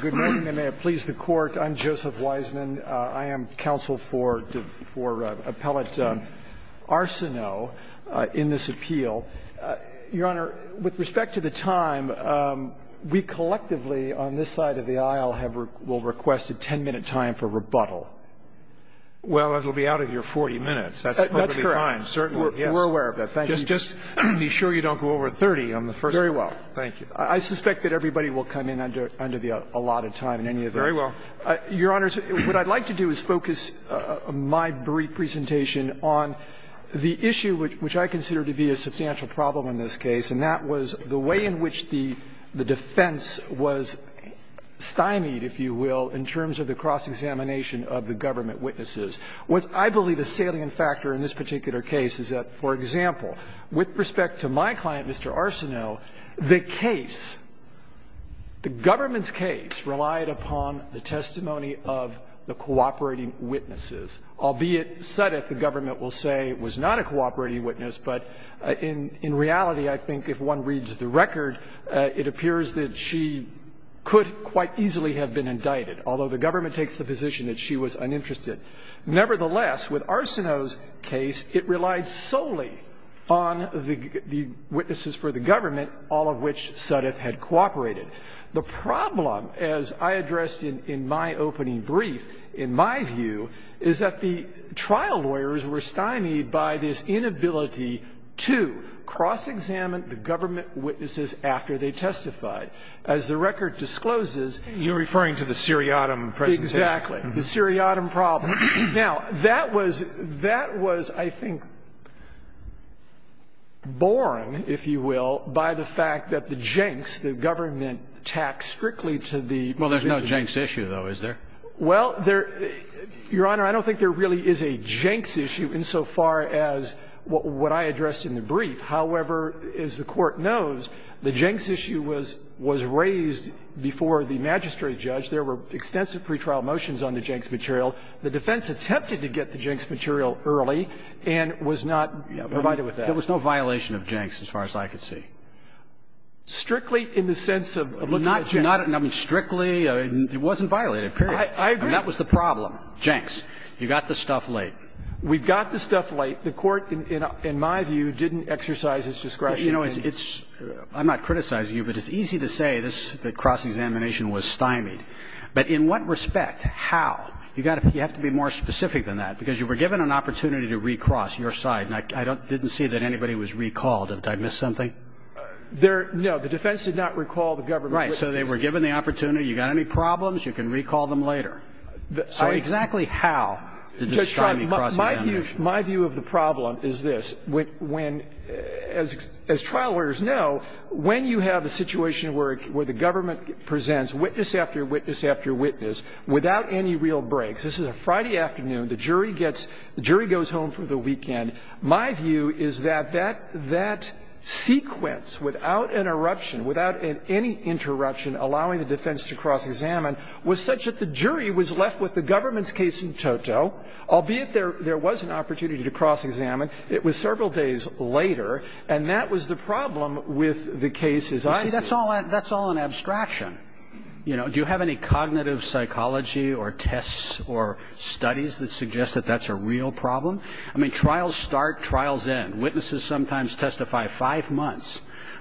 Good morning, and may it please the Court, I'm Joseph Wiseman. I am counsel for Appellate Arceneaux in this appeal. Your Honor, with respect to the time, we collectively on this side of the aisle will request a 10-minute time for rebuttal. Well, it will be out of your 40 minutes. That's totally fine. That's correct. We're aware of that. Thank you. Just be sure you don't go over 30 on the first. Very well. Thank you. I suspect that everybody will come in under a lot of time in any of this. Very well. Your Honors, what I'd like to do is focus my brief presentation on the issue which I consider to be a substantial problem in this case, and that was the way in which the defense was stymied, if you will, in terms of the cross-examination of the government witnesses. What I believe is a salient factor in this particular case is that, for example, with respect to my client, Mr. Arceneaux, the case, the government's case, relied upon the testimony of the cooperating witnesses, albeit said if the government will say it was not a cooperating witness. But in reality, I think if one reads the record, it appears that she could quite easily have been indicted, although the government takes the position that she was uninterested. Nevertheless, with Arceneaux's case, it relied solely on the witnesses for the government, all of which said it had cooperated. The problem, as I addressed in my opening brief, in my view, is that the trial lawyers were stymied by this inability to cross-examine the government witnesses after they testified. As the record discloses— You're referring to the seriatim presentation. Exactly, the seriatim problem. Now, that was, I think, borne, if you will, by the fact that the Jenks, the government, taxed strictly to the— Well, that's not a Jenks issue, though, is there? Well, Your Honor, I don't think there really is a Jenks issue insofar as what I addressed in the brief. However, as the Court knows, the Jenks issue was raised before the magistrate judge. There were extensive pretrial motions on the Jenks material. The defense attempted to get the Jenks material early and was not provided with that. There was no violation of Jenks as far as I could see. Strictly in the sense of looking at Jenks. Strictly, it wasn't violated, period. I agree. And that was the problem, Jenks. You got the stuff late. We got the stuff late. The Court, in my view, didn't exercise its discretion. You know, it's—I'm not criticizing you, but it's easy to say that cross-examination was stymied. But in what respect? How? You have to be more specific than that, because you were given an opportunity to recross your side, and I didn't see that anybody was recalled. Did I miss something? No, the defense did not recall the government. Right, so they were given the opportunity. You got any problems, you can recall them later. So exactly how did this cross-examination? My view of the problem is this. As trial lawyers know, when you have a situation where the government presents witness after witness after witness without any real breaks—this is a Friday afternoon, the jury goes home for the weekend— my view is that that sequence, without an eruption, without any interruption, allowing the defense to cross-examine, was such that the jury was left with the government's case in toto, albeit there was an opportunity to cross-examine, it was several days later, and that was the problem with the cases I saw. See, that's all an abstraction. Do you have any cognitive psychology or tests or studies that suggest that that's a real problem? I mean, trials start, trials end. Witnesses sometimes testify five months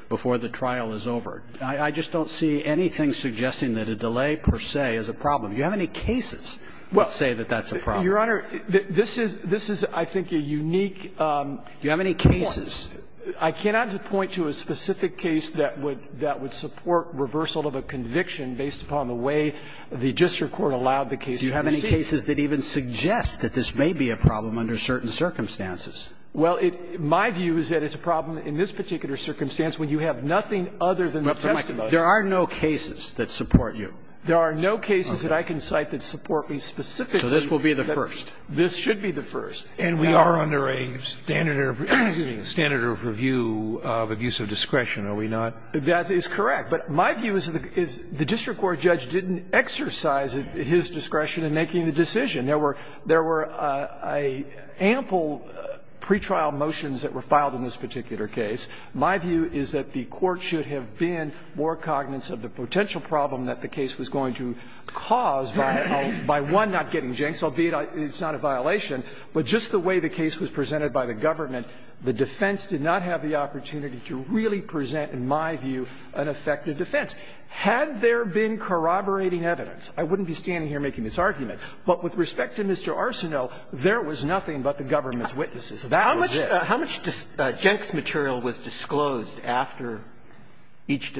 before the trial is over. I just don't see anything suggesting that a delay, per se, is a problem. Do you have any cases that say that that's a problem? Your Honor, this is, I think, a unique point. Do you have any cases? I cannot point to a specific case that would support reversal of a conviction based upon the way the district court allowed the case to proceed. Do you have any cases that even suggest that this may be a problem under certain circumstances? Well, my view is that it's a problem in this particular circumstance when you have nothing other than the testimony. There are no cases that support you. There are no cases that I can cite that support me specifically. So this will be the first. This should be the first. And we are under a standard of review of abuse of discretion, are we not? That is correct. But my view is the district court judge didn't exercise his discretion in making the decision. There were ample pretrial motions that were filed in this particular case. My view is that the court should have been more cognizant of the potential problem that the case was going to cause by, one, not getting jinxed, albeit it's not a violation, but just the way the case was presented by the government, the defense did not have the opportunity to really present, in my view, an effective defense. Had there been corroborating evidence, I wouldn't be standing here making this argument, but with respect to Mr. Arsenault, there was nothing but the government's witnesses. That was it. How much jinx material was disclosed after each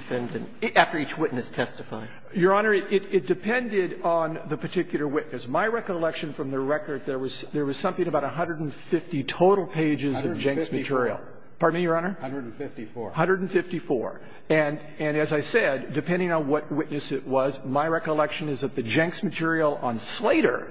witness testified? Your Honor, it depended on the particular witness. My recollection from the record, there was something about 150 total pages of jinx material. Pardon me, Your Honor? 154. 154. And as I said, depending on what witness it was, my recollection is that the jinx material on Slater,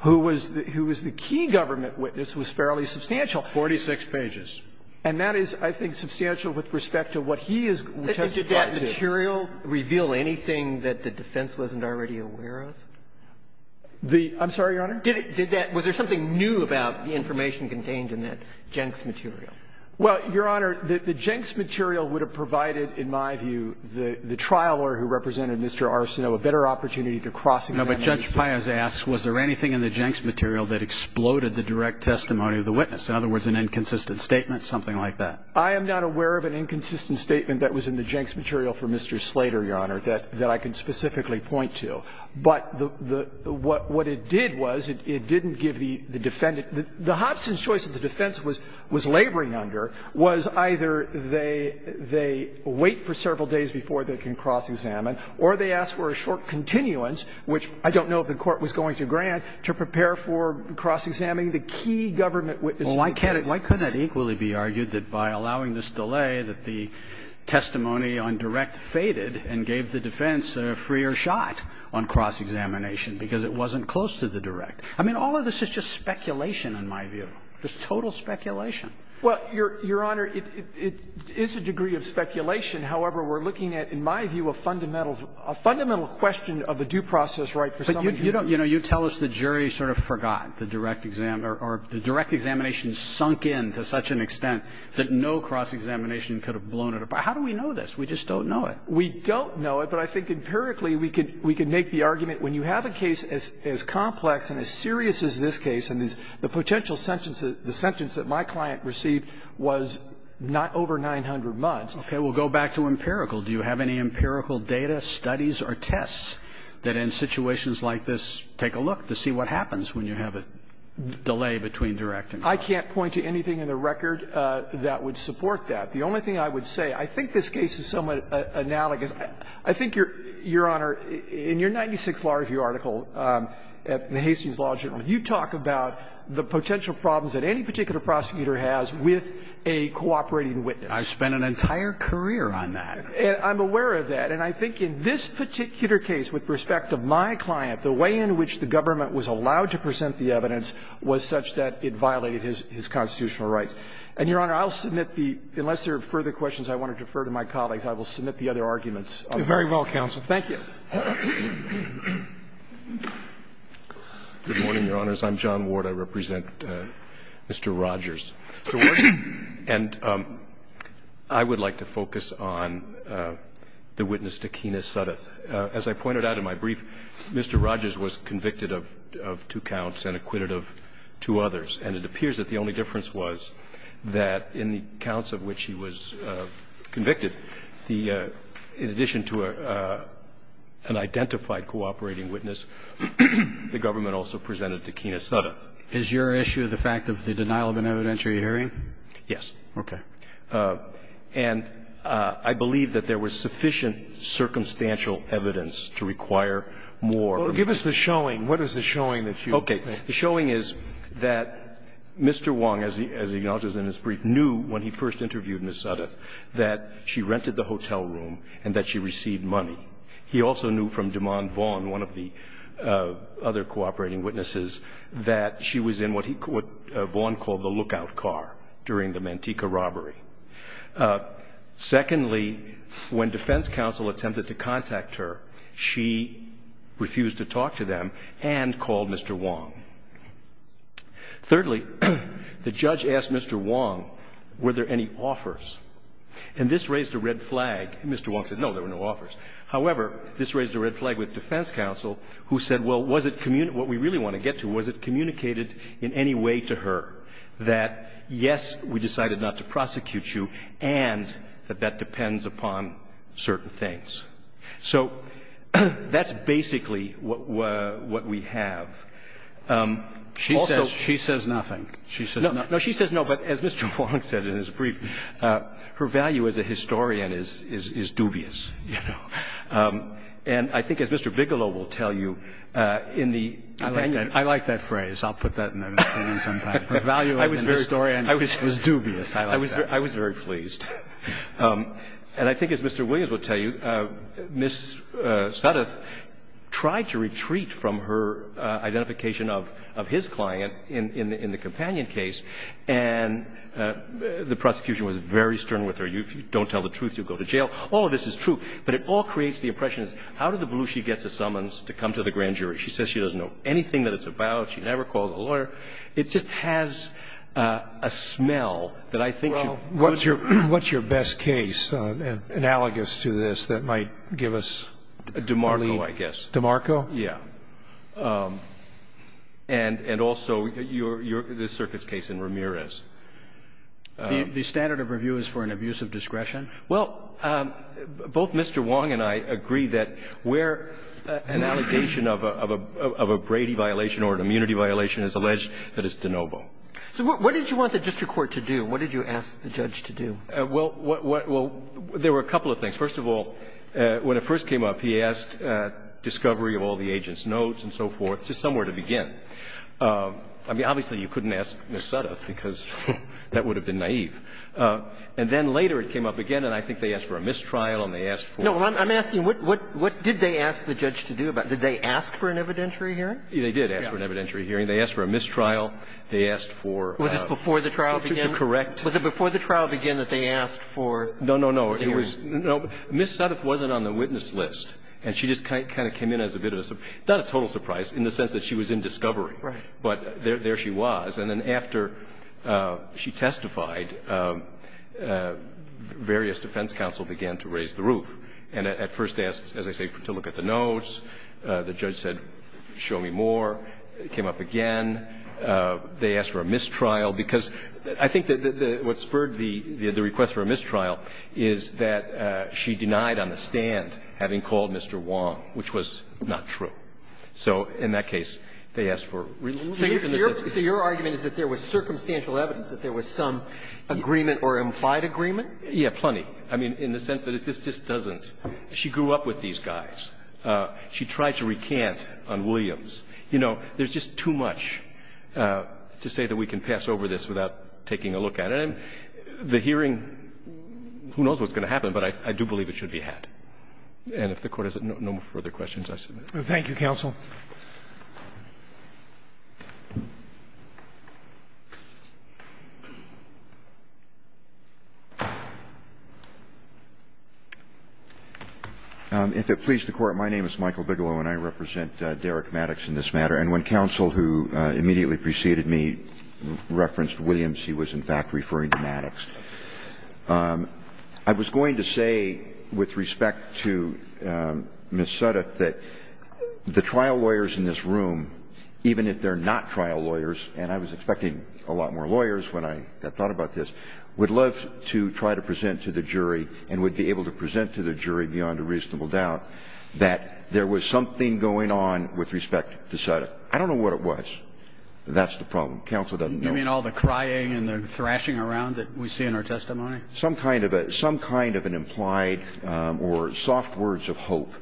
who was the key government witness, was fairly substantial, 46 pages. And that is, I think, substantial with respect to what he is attempting to do. Did the jinx material reveal anything that the defense wasn't already aware of? I'm sorry, Your Honor? Was there something new about the information contained in that jinx material? Well, Your Honor, the jinx material would have provided, in my view, the trial lawyer who represented Mr. Arsenault a better opportunity to cross him out. No, but Judge Pius asks, was there anything in the jinx material that exploded the direct testimony of the witness? In other words, an inconsistent statement, something like that. I am not aware of an inconsistent statement that was in the jinx material for Mr. Slater, Your Honor, that I can specifically point to. But what it did was, it didn't give the defendant the option choice that the defense was laboring under was either they wait for several days before they can cross-examine or they ask for a short continuance, which I don't know if the court was going to grant, to prepare for cross-examining the key government witness. Well, why couldn't it equally be argued that by allowing this delay, that the testimony on direct faded and gave the defense a freer shot on cross-examination because it wasn't close to the direct? I mean, all of this is just speculation, in my view. It's total speculation. Well, Your Honor, it is a degree of speculation. However, we're looking at, in my view, a fundamental question of a due process right. You tell us the jury sort of forgot the direct examination sunk in to such an extent that no cross-examination could have blown it apart. How do we know this? We just don't know it. We don't know it, but I think empirically we can make the argument, when you have a case as complex and as serious as this case, and the potential sentence that my client received was not over 900 months. Okay, we'll go back to empirical. Do you have any empirical data, studies, or tests that, in situations like this, take a look to see what happens when you have a delay between direct and cross-examination? I can't point to anything in the record that would support that. The only thing I would say, I think this case is somewhat analogous. I think, Your Honor, in your 1996 law review article at the Hastings Law Journal, you talk about the potential problems that any particular prosecutor has with a cooperating witness. I spent an entire career on that. I'm aware of that, and I think in this particular case, with respect to my client, the way in which the government was allowed to present the evidence was such that it violated his constitutional rights. And, Your Honor, I'll submit the, unless there are further questions, I want to defer to my colleagues. I will submit the other arguments. Very well, counsel. Thank you. Good morning, Your Honors. I'm John Ward. I represent Mr. Rogers. And I would like to focus on the witness, Takina Suttoth. As I pointed out in my brief, Mr. Rogers was convicted of two counts and acquitted of two others. And it appears that the only difference was that in the counts of which he was convicted, in addition to an identified cooperating witness, the government also presented Takina Suttoth. Is your issue the fact of the denial of an evidentiary hearing? Yes. Okay. And I believe that there was sufficient circumstantial evidence to require more. Well, give us the showing. What is the showing that you think? Okay. The showing is that Mr. Wong, as he acknowledges in his brief, knew when he first interviewed Ms. Suttoth that she rented the hotel room and that she received money. He also knew from DeMond Vaughn, one of the other cooperating witnesses, that she was in what Vaughn called the lookout car during the Manteca robbery. Secondly, when defense counsel attempted to contact her, she refused to talk to them and called Mr. Wong. Thirdly, the judge asked Mr. Wong were there any offers. And this raised a red flag. Mr. Wong said, no, there were no offers. However, this raised a red flag with defense counsel who said, well, what we really want to get to, was it communicated in any way to her that, yes, we decided not to prosecute you and that that depends upon certain things. So that's basically what we have. She says nothing. No, she says no, but as Mr. Wong said in his brief, her value as a historian is dubious, you know. And I think as Mr. Bigelow will tell you, in the end of the day. I like that phrase. I'll put that in another interview sometime. Her value as a historian was dubious. I was very pleased. And I think as Mr. Williams will tell you, Ms. Sudduth tried to retreat from her identification of his client in the companion case, and the prosecution was very stern with her. You don't tell the truth, you go to jail. All of this is true. But it all creates the impression, how did the Belushi get the summons to come to the grand jury? She says she doesn't know anything that it's about. She never calls a lawyer. It just has a smell that I think. What's your best case analogous to this that might give us? DeMarco, I guess. DeMarco? Yeah. And also this circuit's case in Ramirez. The standard of review is for an abuse of discretion? Well, both Mr. Wong and I agree that where an allegation of a Brady violation or an immunity violation is alleged, that it's de novo. So what did you want the district court to do? What did you ask the judge to do? Well, there were a couple of things. First of all, when it first came up, he asked discovery of all the agents' notes and so forth, just somewhere to begin. I mean, obviously you couldn't ask Ms. Sudduth, because that would have been naive. And then later it came up again, and I think they asked for a mistrial, and they asked for- No, I'm asking what did they ask the judge to do? Did they ask for an evidentiary hearing? They did ask for an evidentiary hearing. They asked for a mistrial. They asked for- Was it before the trial began? Correct. Was it before the trial began that they asked for- No, no, no. Ms. Sudduth wasn't on the witness list, and she just kind of came in as a bit of a surprise. Not a total surprise in the sense that she was in discovery, but there she was. And then after she testified, various defense counsel began to raise the roof and at first asked, as I say, to look at the notes. The judge said, show me more. It came up again. They asked for a mistrial because I think what spurred the request for a mistrial is that she denied on the stand having called Mr. Wong, which was not true. So in that case, they asked for- So your argument is that there was circumstantial evidence that there was some agreement or implied agreement? Yeah, funny. I mean, in the sense that it just doesn't- She grew up with these guys. She tried to recant on Williams. You know, there's just too much to say that we can pass over this without taking a look at it. The hearing, who knows what's going to happen, but I do believe it should be had. And if the Court has no further questions, I submit. Thank you, counsel. If it pleases the Court, my name is Michael Bigelow, and I represent Derek Maddox in this matter. And when counsel, who immediately preceded me, referenced Williams, he was, in fact, referring to Maddox. I was going to say, with respect to Ms. Suttoth, that the trial lawyers in this room, even if they're not trial lawyers, and I was expecting a lot more lawyers when I thought about this, would love to try to present to the jury and would be able to present to the jury beyond a reasonable doubt that there was something going on with respect to Suttoth. I don't know what it was. That's the problem. Counsel doesn't know. You mean all the crying and the thrashing around that we see in our testimony? Some kind of an implied or soft words of hope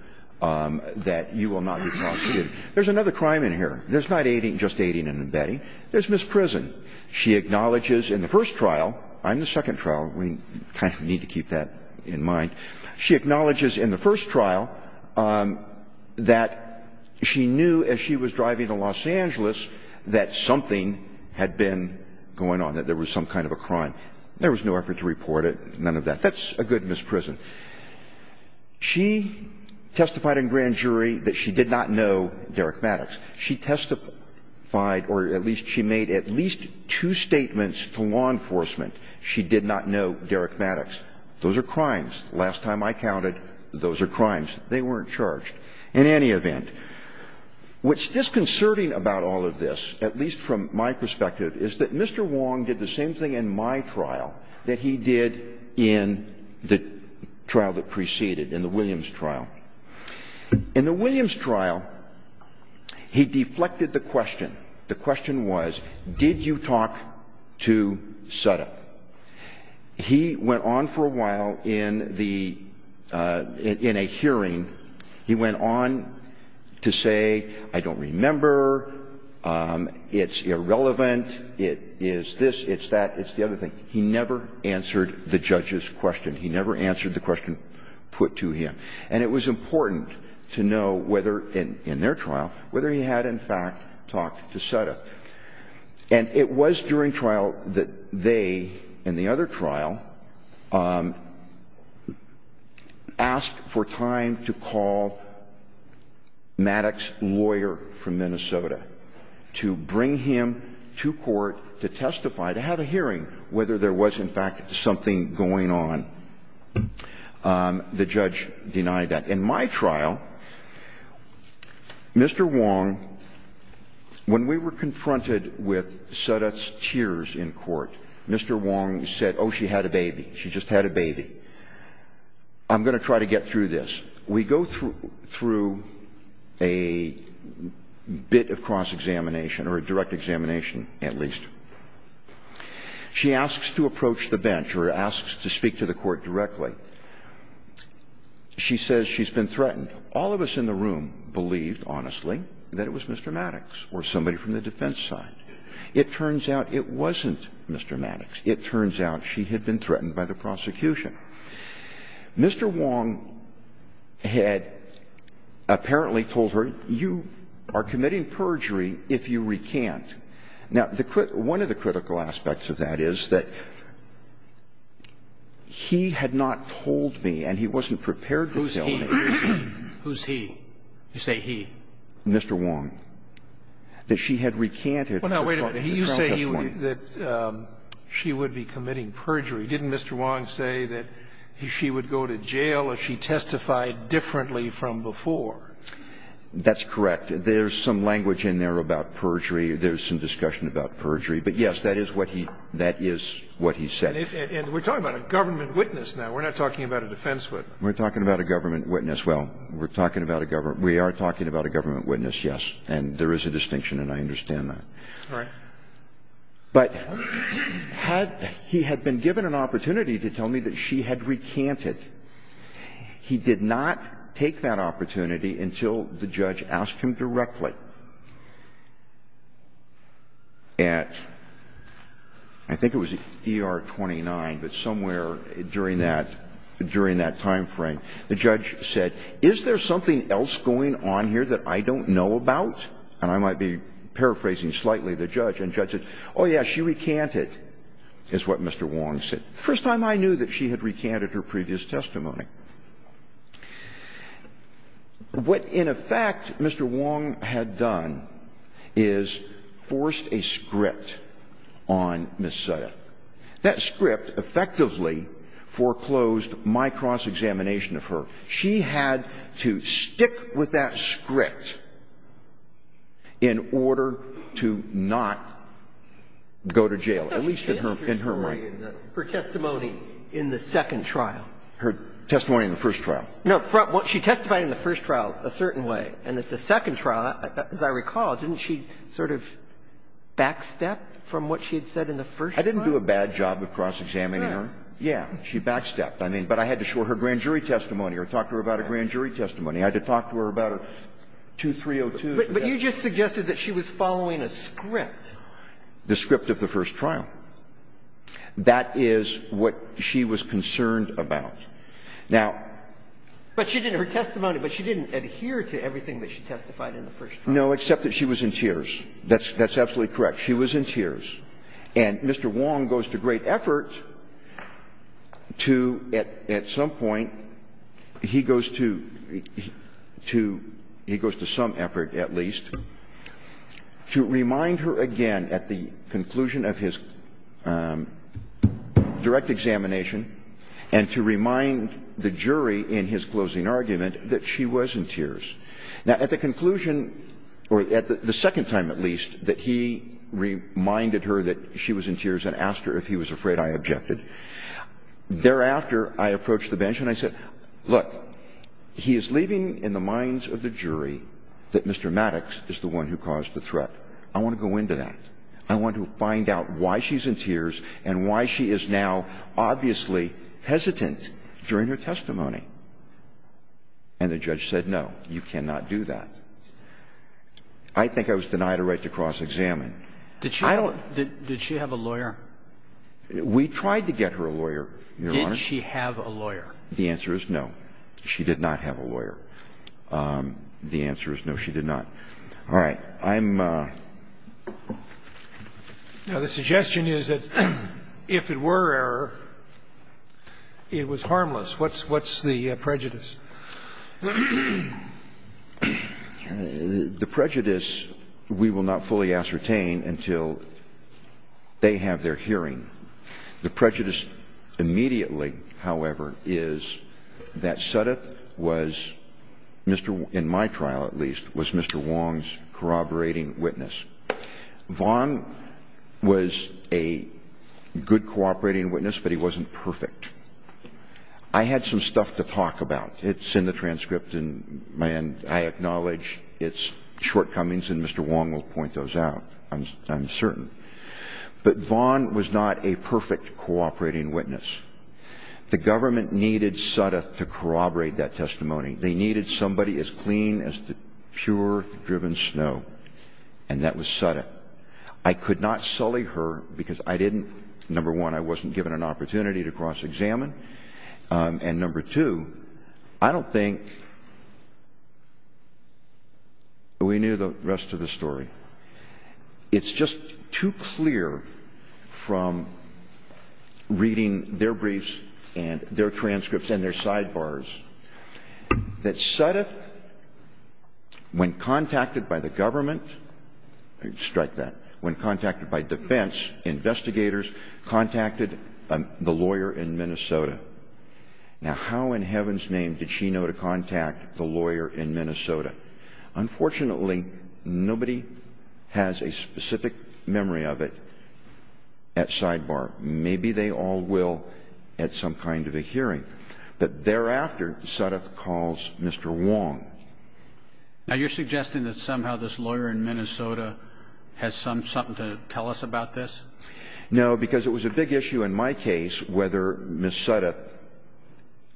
that you will not be prosecuted. There's another crime in here. There's not just aiding and abetting. There's misprison. She acknowledges in the first trial. I'm the second trial. We kind of need to keep that in mind. She acknowledges in the first trial that she knew as she was driving to Los Angeles that something had been going on, that there was some kind of a crime. There was no effort to report it, none of that. That's a good misprison. She testified in grand jury that she did not know Derek Maddox. She testified, or at least she made at least two statements to law enforcement. She did not know Derek Maddox. Those are crimes. Last time I counted, those are crimes. They weren't charged in any event. What's disconcerting about all of this, at least from my perspective, is that Mr. Wong did the same thing in my trial that he did in the trial that preceded, in the Williams trial. In the Williams trial, he deflected the question. The question was, did you talk to Suttup? He went on for a while in a hearing. He went on to say, I don't remember, it's irrelevant, it is this, it's that, it's the other thing. He never answered the judge's question. He never answered the question put to him. And it was important to know whether, in their trial, whether he had in fact talked to Suttup. And it was during trial that they, in the other trial, asked for time to call Maddox's lawyer from Minnesota to bring him to court to testify, to have a hearing, whether there was in fact something going on. The judge denied that. In my trial, Mr. Wong, when we were confronted with Suttup's tears in court, Mr. Wong said, oh, she had a baby. She just had a baby. I'm going to try to get through this. We go through a bit of cross-examination, or a direct examination, at least. She asks to approach the bench, or asks to speak to the court directly. She says she's been threatened. All of us in the room believed, honestly, that it was Mr. Maddox, or somebody from the defense side. It turns out it wasn't Mr. Maddox. It turns out she had been threatened by the prosecution. Mr. Wong had apparently told her, you are committing perjury if you recant. One of the critical aspects of that is that he had not told me, and he wasn't prepared to tell me. Who's he? You say he. Mr. Wong. She had recanted. Wait a minute. You say she would be committing perjury. Didn't Mr. Wong say that she would go to jail if she testified differently from before? That's correct. There's some language in there about perjury. There's some discussion about perjury. But, yes, that is what he said. And we're talking about a government witness now. We're not talking about a defense witness. We're talking about a government witness. Well, we are talking about a government witness, yes. And there is a distinction, and I understand that. All right. But he had been given an opportunity to tell me that she had recanted. He did not take that opportunity until the judge asked him directly at, I think it was D.R. 29, but somewhere during that timeframe, the judge said, is there something else going on here that I don't know about? And I might be paraphrasing slightly the judge. And the judge said, oh, yes, she recanted, is what Mr. Wong said. First time I knew that she had recanted her previous testimony. What, in effect, Mr. Wong had done is forced a script on Ms. Sutta. That script effectively foreclosed my cross-examination of her. She had to stick with that script in order to not go to jail, at least in her mind. Her testimony in the second trial. Her testimony in the first trial. No, she testified in the first trial a certain way. And at the second trial, as I recall, didn't she sort of backstep from what she had said in the first trial? I didn't do a bad job of cross-examining her. Yeah. Yeah, she backstepped. But I had to show her grand jury testimony or talk to her about a grand jury testimony. I had to talk to her about a 2302. But you just suggested that she was following a script. The script of the first trial. That is what she was concerned about. But she did her testimony, but she didn't adhere to everything that she testified in the first trial. No, except that she was in tears. That's absolutely correct. She was in tears. And Mr. Wong goes to great effort to, at some point, he goes to some effort, at least, to remind her again at the conclusion of his direct examination and to remind the jury in his closing argument that she was in tears. Now, at the conclusion, or at the second time at least, that he reminded her that she was in tears and asked her if he was afraid, I objected. Thereafter, I approached the bench and I said, Look, he is leaving in the minds of the jury that Mr. Maddox is the one who caused the threat. I want to go into that. I want to find out why she's in tears and why she is now obviously hesitant during her testimony. And the judge said, no, you cannot do that. I think I was denied a right to cross-examine. Did she have a lawyer? We tried to get her a lawyer, Your Honor. Did she have a lawyer? The answer is no. She did not have a lawyer. The answer is no, she did not. All right. The suggestion is that if it were error, it was harmless. What's the prejudice? The prejudice we will not fully ascertain until they have their hearing. The prejudice immediately, however, is that Suttoth was, in my trial at least, was Mr. Wong's corroborating witness. Vaughn was a good corroborating witness, but he wasn't perfect. I had some stuff to talk about. It's in the transcript and I acknowledge its shortcomings and Mr. Wong will point those out. I'm certain. But Vaughn was not a perfect cooperating witness. The government needed Suttoth to corroborate that testimony. They needed somebody as clean as the pure, driven snow, and that was Suttoth. I could not sully her because I didn't, number one, I wasn't given an opportunity to cross-examine. And number two, I don't think we knew the rest of the story. It's just too clear from reading their briefs and their transcripts and their sidebars that Suttoth, when contacted by the government, when contacted by defense investigators, contacted the lawyer in Minnesota. Now how in heaven's name did she know to contact the lawyer in Minnesota? Unfortunately, nobody has a specific memory of it at sidebar. Maybe they all will at some kind of a hearing. But thereafter, Suttoth calls Mr. Wong. Now you're suggesting that somehow this lawyer in Minnesota has something to tell us about this? No, because it was a big issue in my case whether Ms. Suttoth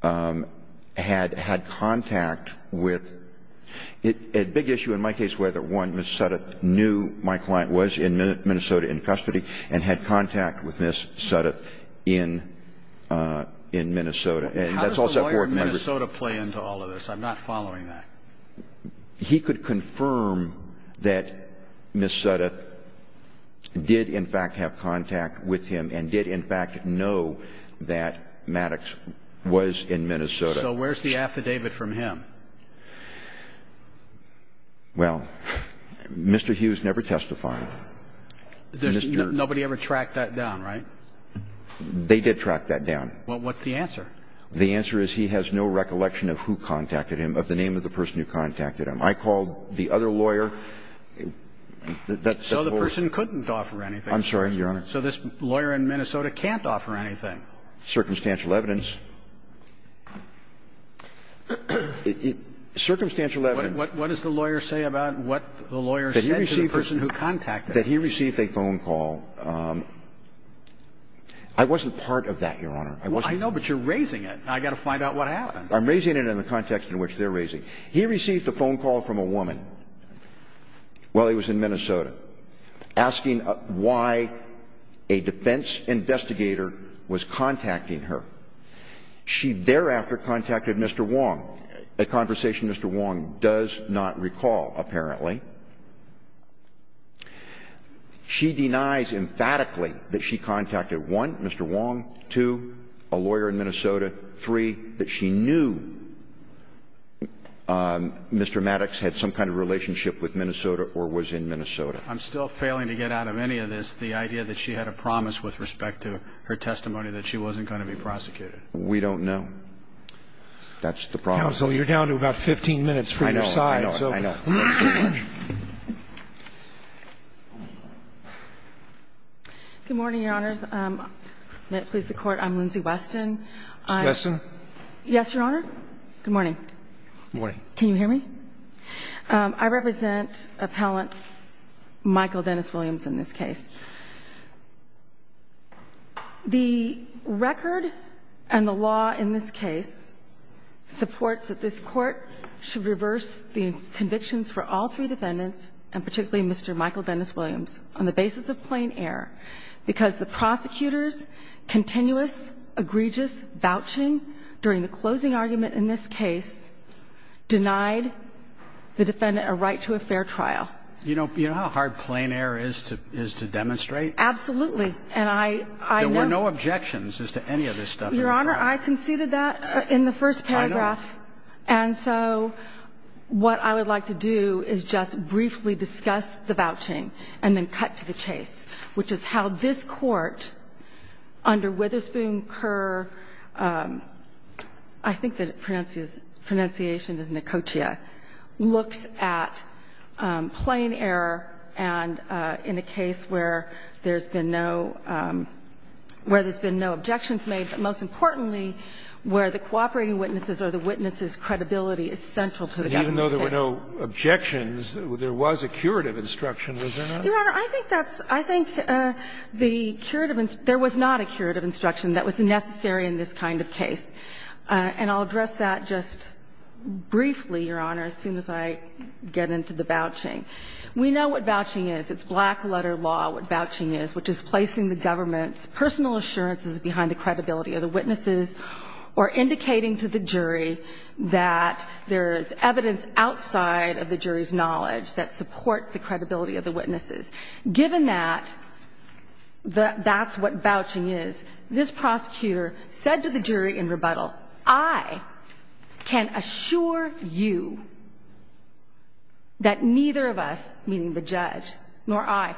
had contact with, a big issue in my case whether, one, Ms. Suttoth knew my client was in Minnesota in custody and had contact with Ms. Suttoth in Minnesota. How does the lawyer in Minnesota play into all of this? I'm not following that. He could confirm that Ms. Suttoth did in fact have contact with him and did in fact know that Maddox was in Minnesota. So where's the affidavit from him? Well, Mr. Hughes never testified. Nobody ever tracked that down, right? They did track that down. Well, what's the answer? The answer is he has no recollection of who contacted him, of the name of the person who contacted him. I called the other lawyer. So the person couldn't offer anything? I'm sorry, Your Honor. So this lawyer in Minnesota can't offer anything? Circumstantial evidence. What does the lawyer say about what the lawyer said to the person who contacted him? That he received a phone call. I wasn't part of that, Your Honor. I know, but you're raising it. I've got to find out what happened. I'm raising it in the context in which they're raising it. He received a phone call from a woman while he was in Minnesota asking why a defense investigator was contacting her. She thereafter contacted Mr. Wong. A conversation Mr. Wong does not recall, apparently. She denies emphatically that she contacted, one, Mr. Wong, two, a lawyer in Minnesota, three, that she knew Mr. Maddox had some kind of relationship with Minnesota or was in Minnesota. I'm still failing to get out of any of this the idea that she had a promise with respect to her testimony that she wasn't going to be prosecuted. We don't know. That's the problem. Counsel, you're down to about 15 minutes for your side. I know, I know. Good morning, Your Honors. May it please the Court, I'm Lindsay Weston. Yes, Your Honor. Yes, Your Honor. Good morning. Good morning. Can you hear me? I represent Appellant Michael Dennis Williams in this case. The record and the law in this case supports that this Court should reverse the convictions for all three defendants, and particularly Mr. Michael Dennis Williams, on the basis of plain error because the prosecutor's continuous, egregious vouching during the closing argument in this case denied the defendant a right to a fair trial. You know how hard plain error is to demonstrate? Absolutely. There were no objections as to any of this stuff. Your Honor, I conceded that in the first paragraph. I know. And so what I would like to do is just briefly discuss the vouching and then cut to the chase, which is how this Court, under Witherspoon, Kerr, I think the pronunciation is Nicotia, looked at plain error and in a case where there's been no objections made, but most importantly where the cooperating witnesses or the witnesses' credibility is central to the evidence. Even though there were no objections, there was a curative instruction, wasn't there? Your Honor, I think there was not a curative instruction that was necessary in this kind of case, and I'll address that just briefly, Your Honor, as soon as I get into the vouching. We know what vouching is. It's black letter law, what vouching is, which is placing the government's personal assurances behind the credibility of the witnesses or indicating to the jury that there is evidence outside of the jury's knowledge that supports the credibility of the witnesses. Given that that's what vouching is, this prosecutor said to the jury in rebuttal, I can assure you that neither of us, meaning the judge, nor I,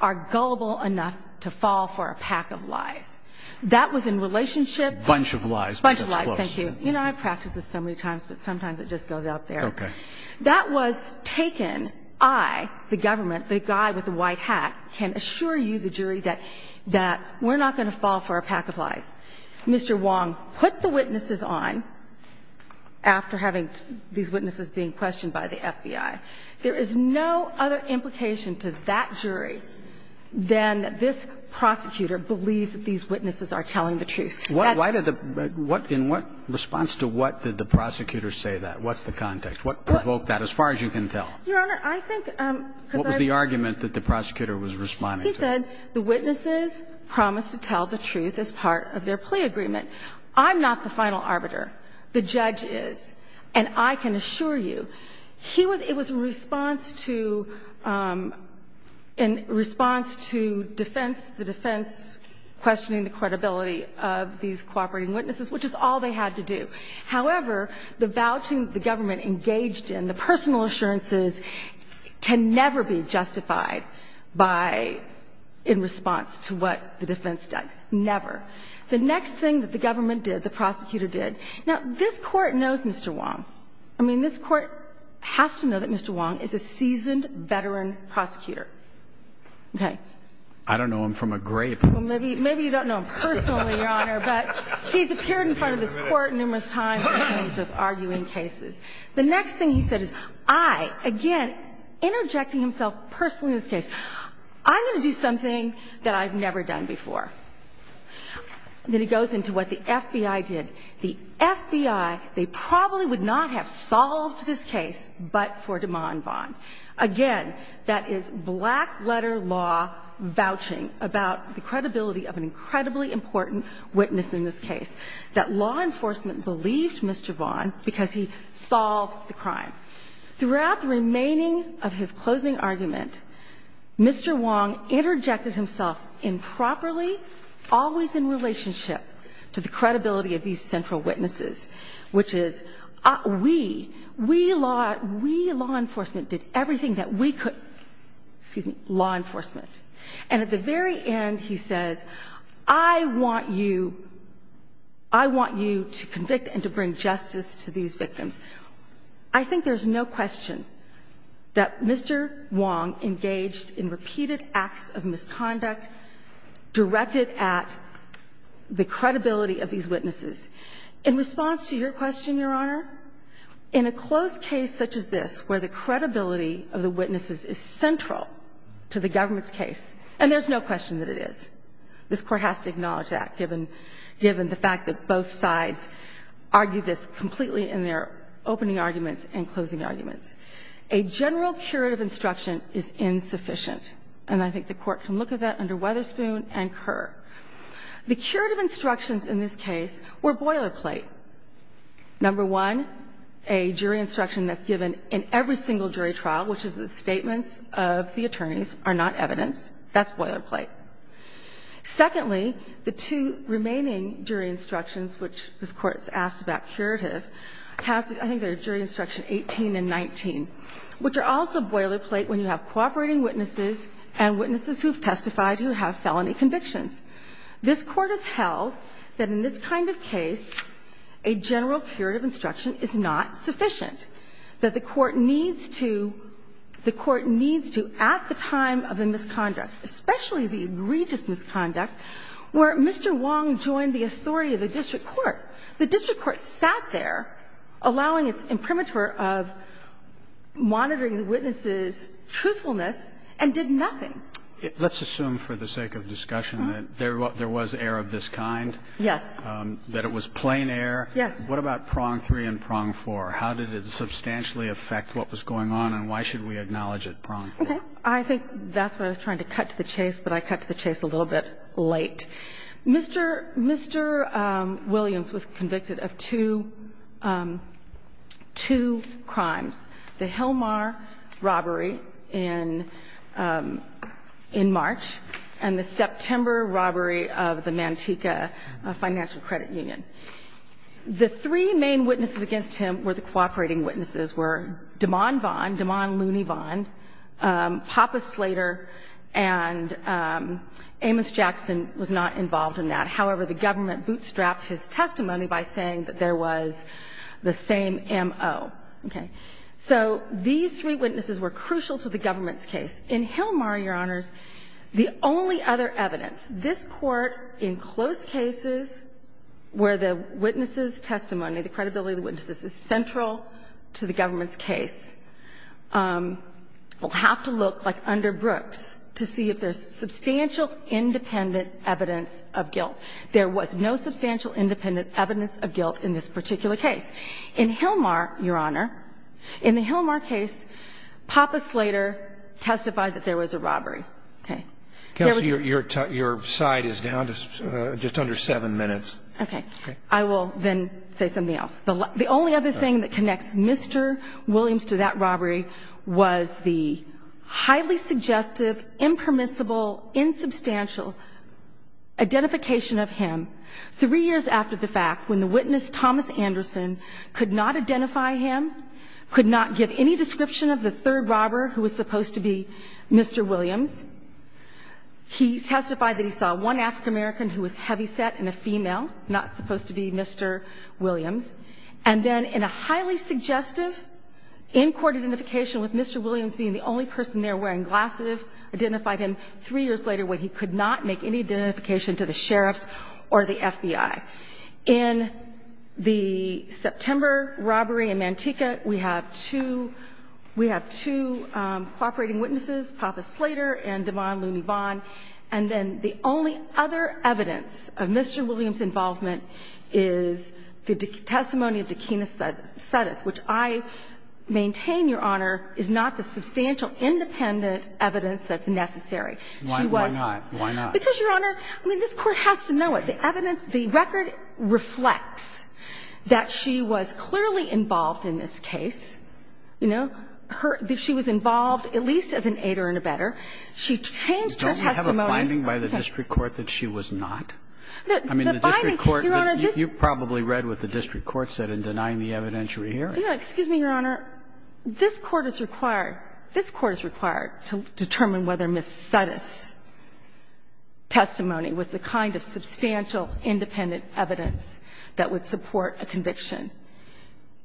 are gullible enough to fall for a pack of lies. That was in relationship to a bunch of lies. Thank you. You know, I've practiced this so many times that sometimes it just goes out there. Okay. That was taken, I, the government, the guy with the white hat, can assure you, the jury, that we're not going to fall for a pack of lies. Mr. Wong put the witnesses on after having these witnesses being questioned by the FBI. There is no other implication to that jury than this prosecutor believes that these witnesses are telling the truth. In what response to what did the prosecutor say that? What's the context? What provoked that as far as you can tell? Your Honor, I think because I'm What was the argument that the prosecutor was responding to? He said the witnesses promised to tell the truth as part of their plea agreement. I'm not the final arbiter. The judge is, and I can assure you. He was, it was in response to, in response to defense, the defense questioning the credibility of these cooperating witnesses, which is all they had to do. However, the vouching that the government engaged in, the personal assurances, can never be justified by, in response to what the defense does. Never. The next thing that the government did, the prosecutor did, now this court knows Mr. Wong. I mean, this court has to know that Mr. Wong is a seasoned veteran prosecutor. Okay. I don't know him from a grape. Maybe you don't know him personally, Your Honor, but he's appeared in front of this court numerous times to argue in cases. The next thing he said is, I, again, interjecting himself personally in this case, I'm going to do something that I've never done before. And it goes into what the FBI did. The FBI, they probably would not have solved this case but for DeMond Vaughan. Again, that is black-letter law vouching about the credibility of an incredibly important witness in this case, that law enforcement believed Mr. Vaughan because he solved the crime. Throughout the remaining of his closing argument, Mr. Wong interjected himself improperly, always in relationship to the credibility of these central witnesses, which is we, we law enforcement did everything that we could, excuse me, law enforcement. And at the very end, he says, I want you, I want you to convict and to bring justice to these victims. I think there's no question that Mr. Wong engaged in repeated acts of misconduct directed at the credibility of these witnesses. In response to your question, Your Honor, in a closed case such as this, where the credibility of the witnesses is central to the government's case, and there's no question that it is, this Court has to acknowledge that given the fact that both sides argue this completely in their opening arguments and closing arguments. A general curative instruction is insufficient, and I think the Court can look at that under Weatherspoon and Kerr. The curative instructions in this case were boilerplate. Number one, a jury instruction that's given in every single jury trial, which is the statement of the attorneys, are not evidence. That's boilerplate. Secondly, the two remaining jury instructions, which this Court asked about curative, have the, I think they're jury instruction 18 and 19, which are also boilerplate when you have cooperating witnesses and witnesses who've testified who have felony convictions. This Court has held that in this kind of case, a general curative instruction is not sufficient, that the Court needs to, the Court needs to at the time of a misconduct, especially the egregious misconduct, where Mr. Wong joined the authority of the district court. The district court sat there, allowing its imprimatur of monitoring the witnesses' truthfulness, and did nothing. Let's assume for the sake of discussion that there was error of this kind. Yes. That it was plain error. Yes. What about prong three and prong four? How did it substantially affect what was going on, and why should we acknowledge it prong four? Okay. I think that's what I was trying to cut to the chase, but I cut to the chase a little bit late. Mr. Williams was convicted of two crimes, the Hilmar robbery in March, and the September robbery of the Nantica Financial Credit Union. The three main witnesses against him were the cooperating witnesses, were DeMond Vaughn, DeMond Looney Vaughn, Papa Slater, and Amos Jackson was not involved in that. However, the government bootstrapped his testimony by saying that there was the same M.O. Okay. So these three witnesses were crucial to the government's case. In Hilmar, Your Honors, the only other evidence, this court includes cases where the witnesses' testimony, the credibility of the witnesses, is central to the government's case. It will have to look like under Brooks to see if there's substantial independent evidence of guilt. There was no substantial independent evidence of guilt in this particular case. In Hilmar, Your Honor, in the Hilmar case, Papa Slater testified that there was a robbery. Okay. Counsel, your side is down to just under seven minutes. Okay. I will then say something else. The only other thing that connects Mr. Williams to that robbery was the highly suggestive, impermissible, insubstantial identification of him three years after the fact when the witness, Thomas Anderson, could not identify him, could not get any description of the third robber who was supposed to be Mr. Williams. He testified that he saw one African American who was heavyset and a female, not supposed to be Mr. Williams. And then in a highly suggestive in-court identification with Mr. Williams being the only person there wearing glasses, identified him three years later when he could not make any identification to the sheriff or the FBI. In the September robbery in Manteca, we have two cooperating witnesses, Papa Slater and Devon Looney-Vaughn, and then the only other evidence of Mr. Williams' involvement is the testimony of Dakinis Sedis, which I maintain, Your Honor, is not the substantial independent evidence that's necessary. Why not? Why not? Because, Your Honor, I mean, this court has to know it. The evidence, the record reflects that she was clearly involved in this case, you know, that she was involved at least as an aider and abetter. She changed her testimony. You don't have a finding by the district court that she was not? I mean, the district court, you've probably read what the district court said in denying the evidentiary hearing. No, excuse me, Your Honor. Your Honor, this court is required, this court is required to determine whether Ms. Sedis' testimony was the kind of substantial independent evidence that would support a conviction.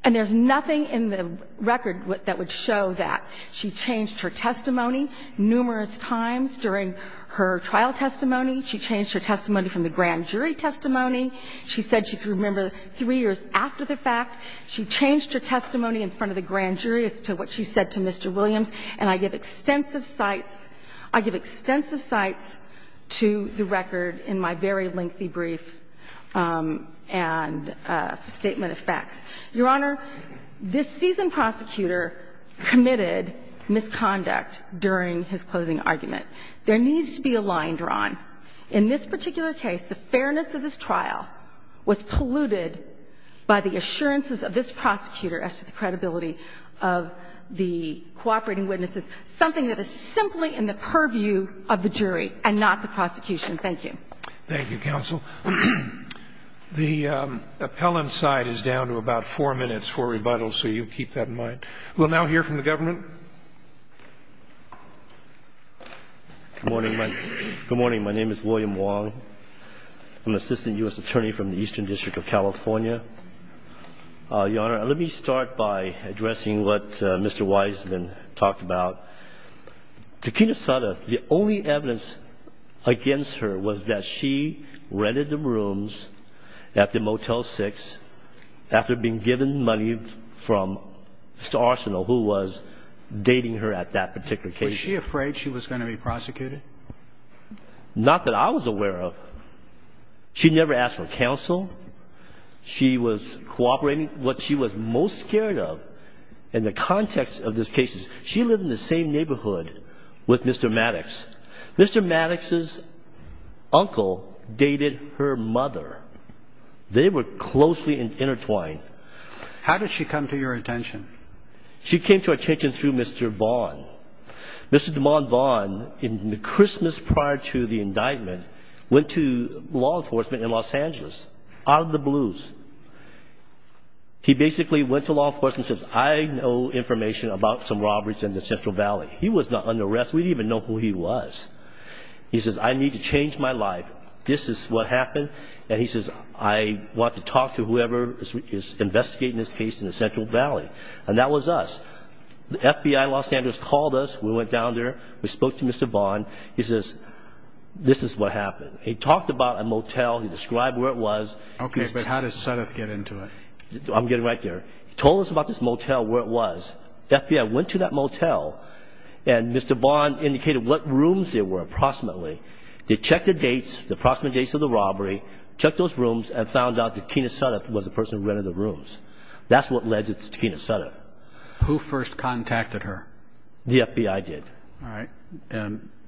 And there's nothing in the record that would show that. She changed her testimony numerous times during her trial testimony. She changed her testimony from the grand jury testimony. She said she could remember three years after the fact. She changed her testimony in front of the grand jury as to what she said to Mr. Williams. And I give extensive cites, I give extensive cites to the record in my very lengthy brief and statement of facts. Your Honor, this seasoned prosecutor committed misconduct during his closing argument. There needs to be a line drawn. In this particular case, the fairness of this trial was polluted by the assurances of this prosecutor as to the credibility of the cooperating witnesses, something that is simply in the purview of the jury and not the prosecution. Thank you. Thank you, counsel. The appellant side is down to about four minutes for rebuttal, so you keep that in mind. We'll now hear from the government. Good morning. My name is William Wong. I'm an assistant U.S. attorney from the Eastern District of California. Your Honor, let me start by addressing what Mr. Wiseman talked about. To Tina Sutter, the only evidence against her was that she rented the rooms at the Motel 6 after being given money from Mr. Arsenault, who was dating her at that particular case. Was she afraid she was going to be prosecuted? Not that I was aware of. She never asked for counsel. She was cooperating. What she was most scared of in the context of this case is she lived in the same neighborhood with Mr. Maddox. Mr. Maddox's uncle dated her mother. They were closely intertwined. How did she come to your attention? She came to our attention through Mr. Vaughan. Mr. Vaughan, Christmas prior to the indictment, went to law enforcement in Los Angeles, out of the blues. He basically went to law enforcement and said, I know information about some robberies in the Central Valley. He was not under arrest. We didn't even know who he was. He said, I need to change my life. This is what happened. And he says, I want to talk to whoever is investigating this case in the Central Valley. And that was us. The FBI in Los Angeles called us. We went down there. We spoke to Mr. Vaughan. He says, this is what happened. He talked about a motel. He described where it was. Okay, but how did SUDDUP get into it? I'm getting right there. He told us about this motel, where it was. The FBI went to that motel, and Mr. Vaughan indicated what rooms there were, approximately. They checked the dates, the approximate dates of the robbery, checked those rooms, and found out that Tina SUDDUP was the person who rented the rooms. That's what led to Tina SUDDUP. Who first contacted her? The FBI did. All right.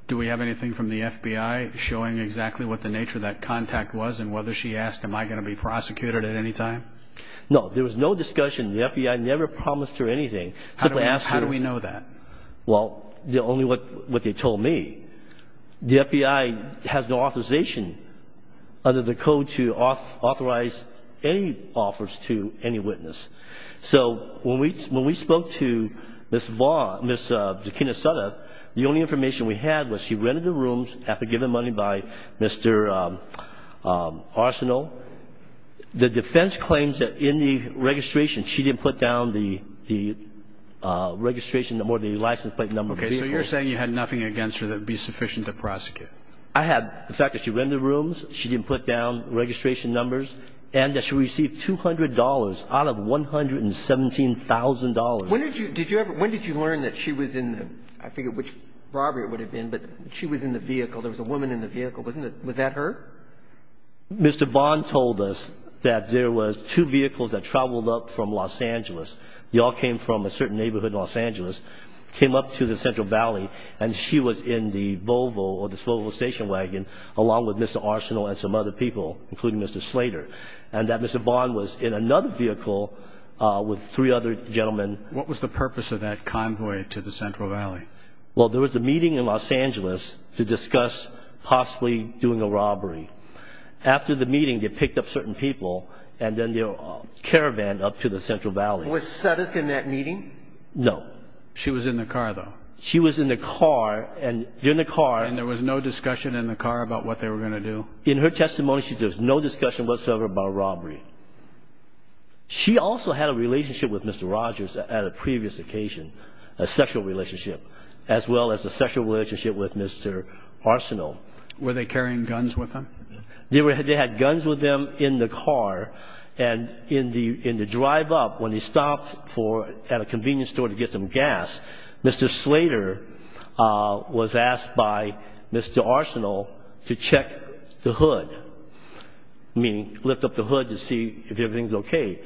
Do we have anything from the FBI showing exactly what the nature of that contact was and whether she asked, am I going to be prosecuted at any time? No, there was no discussion. The FBI never promised her anything. How do we know that? Well, only what they told me. The FBI has no authorization under the code to authorize any offers to any witness. So when we spoke to Ms. Vaughan, Ms. Tina SUDDUP, the only information we had was she rented the rooms after giving money by Mr. Arsenault. The defense claims that in the registration, she didn't put down the registration or the license plate number. Okay, so you're saying you had nothing against her that would be sufficient to prosecute. I had the fact that she rented rooms, she didn't put down registration numbers, and that she received $200 out of $117,000. When did you learn that she was in the—I figured which robbery it would have been, but she was in the vehicle, there was a woman in the vehicle. Was that her? Mr. Vaughan told us that there was two vehicles that traveled up from Los Angeles. They all came from a certain neighborhood in Los Angeles, came up to the Central Valley, and she was in the Volvo, or the Volvo station wagon, along with Mr. Arsenault and some other people, including Mr. Slater, and that Mr. Vaughan was in another vehicle with three other gentlemen. What was the purpose of that convoy to the Central Valley? Well, there was a meeting in Los Angeles to discuss possibly doing a robbery. After the meeting, they picked up certain people, and then their caravan up to the Central Valley. Was Sedek in that meeting? No. She was in the car, though? She was in the car, and in the car— And there was no discussion in the car about what they were going to do? In her testimony, there was no discussion whatsoever about a robbery. She also had a relationship with Mr. Rogers at a previous occasion, a sexual relationship, as well as a sexual relationship with Mr. Arsenault. Were they carrying guns with them? They had guns with them in the car, and in the drive up, when they stopped at a convenience store to get some gas, Mr. Slater was asked by Mr. Arsenault to check the hood, meaning lift up the hood to see if everything's okay.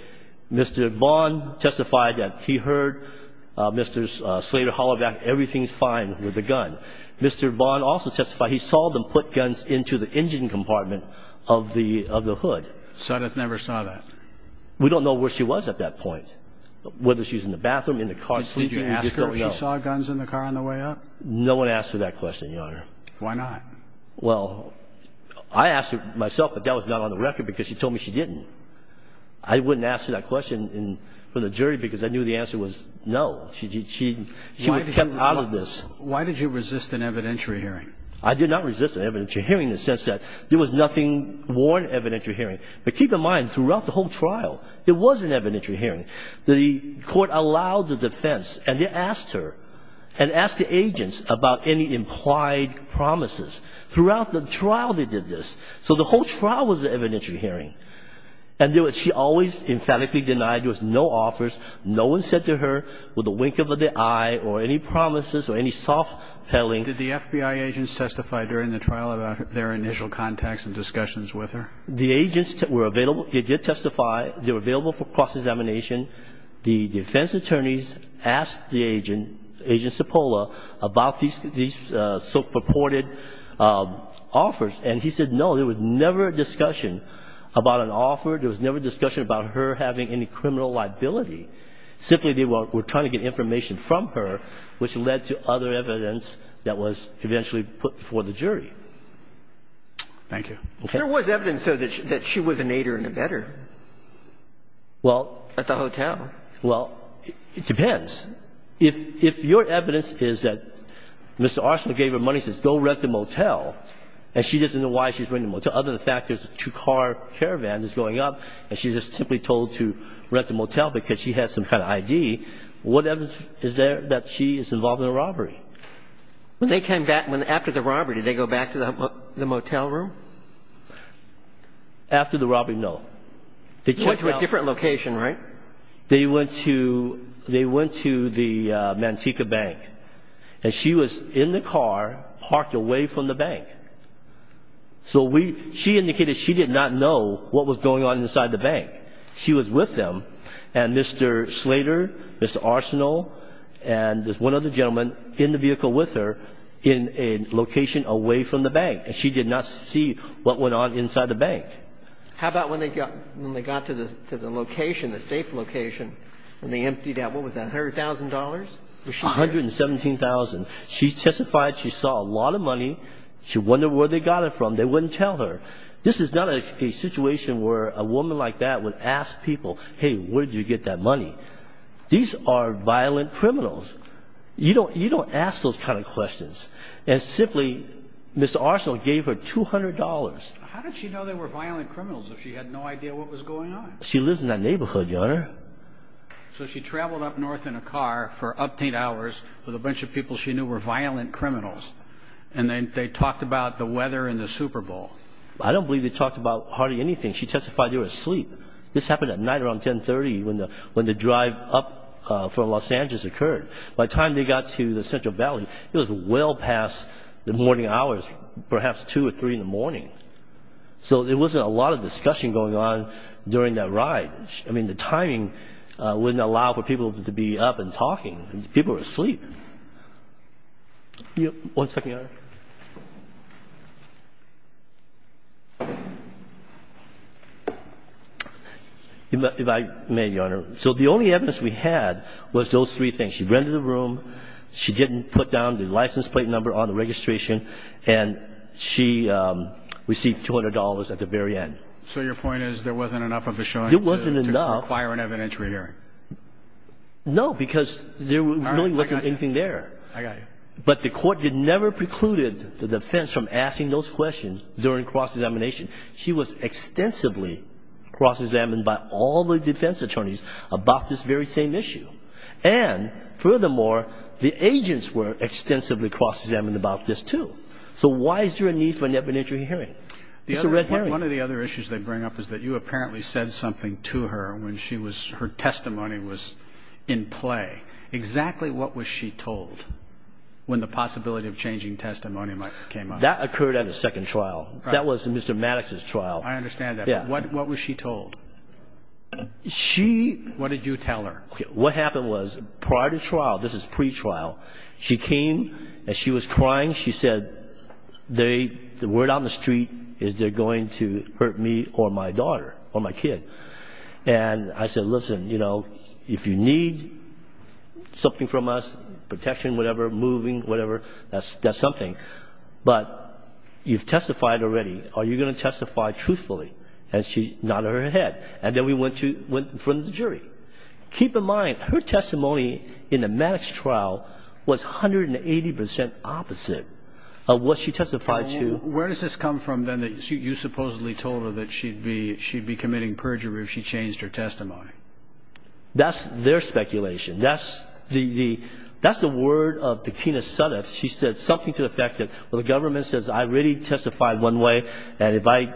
Mr. Vaughan testified that he heard Mr. Slater holler that everything's fine with the gun. Mr. Vaughan also testified he saw them put guns into the engine compartment of the hood. Sedek never saw that? We don't know where she was at that point, whether she was in the bathroom, in the car, sleeping. Did you ask her if she saw guns in the car on the way up? No one asked her that question, Your Honor. Why not? Well, I asked her myself, but that was not on the record because she told me she didn't. I wouldn't ask her that question for the jury because I knew the answer was no. She was kept out of this. Why did you resist an evidentiary hearing? I did not resist an evidentiary hearing in the sense that there was nothing more than an evidentiary hearing. But keep in mind, throughout the whole trial, there was an evidentiary hearing. The court allowed the defense, and they asked her and asked the agents about any implied promises. Throughout the trial, they did this. So the whole trial was an evidentiary hearing. And she always emphatically denied there was no offers. No one said to her with a wink of the eye or any promises or any soft telling. Did the FBI agents testify during the trial about their initial contacts and discussions with her? The agents were available. They did testify. They were available for cross-examination. The defense attorneys asked the agent, Agent Cipolla, about these purported offers, and he said no. There was never a discussion about an offer. There was never a discussion about her having any criminal liability. Simply they were trying to get information from her, which led to other evidence that was eventually put before the jury. Thank you. There was evidence, though, that she was an aider and abetter at the hotel. Well, it depends. If your evidence is that Mr. Arsenault gave her money and says, go rent a motel, and she doesn't know why she's renting a motel, other than the fact there's a two-car caravan that's going up, and she's just simply told to rent a motel because she has some kind of ID, what evidence is there that she is involved in a robbery? When they came back after the robbery, did they go back to the motel room? After the robbery, no. They went to a different location, right? They went to the Manteca Bank, and she was in the car parked away from the bank. So she indicated she did not know what was going on inside the bank. She was with them, and Mr. Slater, Ms. Arsenault, and one other gentleman in the vehicle with her in a location away from the bank, and she did not see what went on inside the bank. How about when they got to the location, the safe location, and they emptied out, what was that, $100,000? $117,000. She testified she saw a lot of money. She wondered where they got it from. They wouldn't tell her. This is not a situation where a woman like that would ask people, hey, where did you get that money? These are violent criminals. You don't ask those kind of questions. And simply, Ms. Arsenault gave her $200. How did she know they were violent criminals if she had no idea what was going on? She lives in that neighborhood, Your Honor. So she traveled up north in a car for up to eight hours with a bunch of people she knew were violent criminals, and they talked about the weather and the Super Bowl. I don't believe they talked about hardly anything. She testified they were asleep. This happened at night around 1030 when the drive up from Los Angeles occurred. By the time they got to the Central Valley, it was well past the morning hours, perhaps two or three in the morning. So there wasn't a lot of discussion going on during that ride. I mean, the timing wouldn't allow for people to be up and talking. One second, Your Honor. If I may, Your Honor. So the only evidence we had was those three things. She went into the room, she didn't put down the license plate number on the registration, and she received $200 at the very end. So your point is there wasn't enough of a showing to require an evidentiary hearing? No, because there really wasn't anything there. I got you. But the court never precluded the defense from asking those questions during cross-examination. She was extensively cross-examined by all the defense attorneys about this very same issue. And furthermore, the agents were extensively cross-examined about this too. So why is there a need for an evidentiary hearing? One of the other issues they bring up is that you apparently said something to her when her testimony was in play. Exactly what was she told when the possibility of changing testimony came up? That occurred at a second trial. That was Mr. Maddox's trial. I understand that. What was she told? What did you tell her? What happened was prior to trial, this is pre-trial, she came and she was crying. She said the word on the street is they're going to hurt me or my daughter or my kid. And I said, listen, you know, if you need something from us, protection, whatever, moving, whatever, that's something. But you've testified already. Are you going to testify truthfully? And she nodded her head. And then we went to the jury. Keep in mind, her testimony in the Maddox trial was 180% opposite of what she testified to. So where does this come from, then, that you supposedly told her that she'd be committing perjury if she changed her testimony? That's their speculation. That's the word of Pequena's sonnets. She said something to the effect that the government says I really testified one way, and if I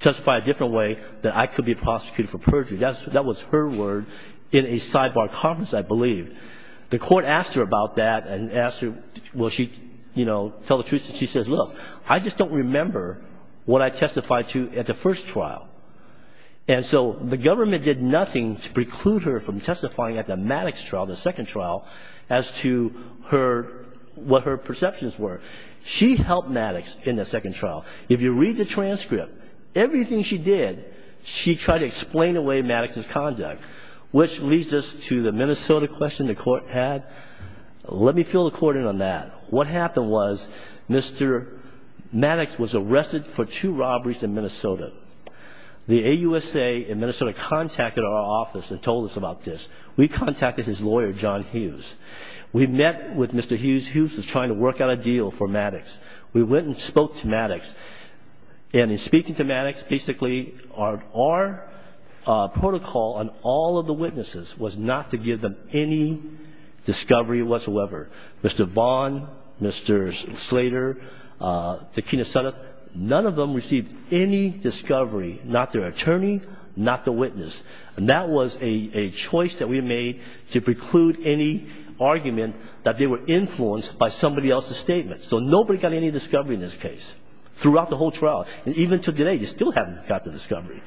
testify a different way, that I could be prosecuted for perjury. That was her word in a sidebar conference, I believe. The court asked her about that and asked her will she, you know, tell the truth. And she says, look, I just don't remember what I testified to at the first trial. And so the government did nothing to preclude her from testifying at the Maddox trial, the second trial, as to what her perceptions were. She helped Maddox in the second trial. If you read the transcript, everything she did, she tried to explain away Maddox's conduct, which leads us to the Minnesota question the court had. Let me fill the court in on that. What happened was Mr. Maddox was arrested for two robberies in Minnesota. The AUSA in Minnesota contacted our office and told us about this. We contacted his lawyer, John Hughes. We met with Mr. Hughes. Hughes was trying to work out a deal for Maddox. We went and spoke to Maddox. And in speaking to Maddox, basically our protocol on all of the witnesses was not to give them any discovery whatsoever. Mr. Vaughn, Mr. Slater, Vickina Sutter, none of them received any discovery, not their attorney, not the witness. And that was a choice that we made to preclude any argument that they were influenced by somebody else's statement. So nobody got any discovery in this case throughout the whole trial. And even to today, they still haven't got the discovery.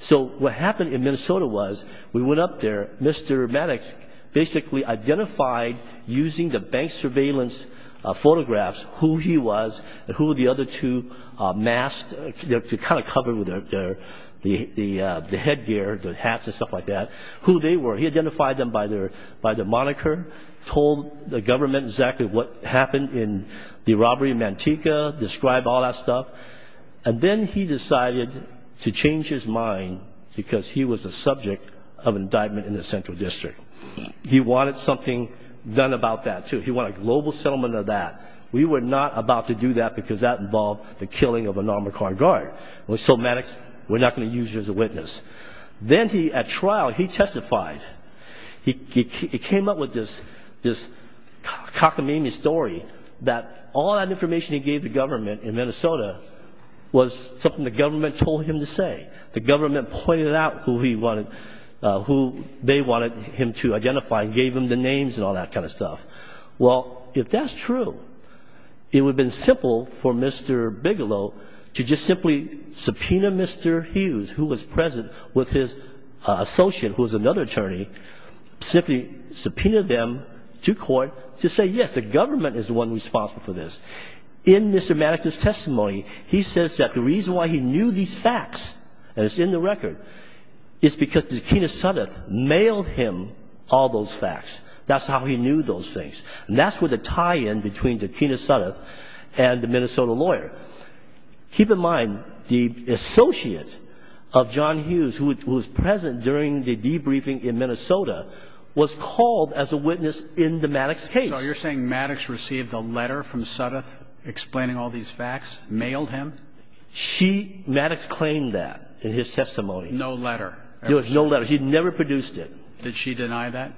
So what happened in Minnesota was we went up there. Mr. Maddox basically identified using the bank surveillance photographs who he was and who the other two masked, kind of covered with the headgear, the hats and stuff like that, who they were. He identified them by their moniker, told the government exactly what happened in the robbery in Manteca, described all that stuff. And then he decided to change his mind because he was the subject of indictment in the Central District. He wanted something done about that, too. He wanted a global settlement of that. We were not about to do that because that involved the killing of a normal car guard. So Maddox, we're not going to use you as a witness. Then at trial, he testified. He came up with this cockamamie story that all that information he gave the government in Minnesota was something the government told him to say. The government pointed out who they wanted him to identify and gave him the names and all that kind of stuff. Well, if that's true, it would have been simple for Mr. Bigelow to just simply subpoena Mr. Hughes, who was present, with his associate, who was another attorney, simply subpoenaed them to court to say, yes, the government is the one responsible for this. In Mr. Maddox's testimony, he says that the reason why he knew these facts, and it's in the record, is because the Kenan-Suddath mailed him all those facts. That's how he knew those things. And that's where the tie-in between the Kenan-Suddath and the Minnesota lawyer. Keep in mind, the associate of John Hughes, who was present during the debriefing in Minnesota, was called as a witness in the Maddox case. So you're saying Maddox received a letter from Suddath explaining all these facts, mailed him? Maddox claimed that in his testimony. No letter? There was no letter. He never produced it. Did she deny that?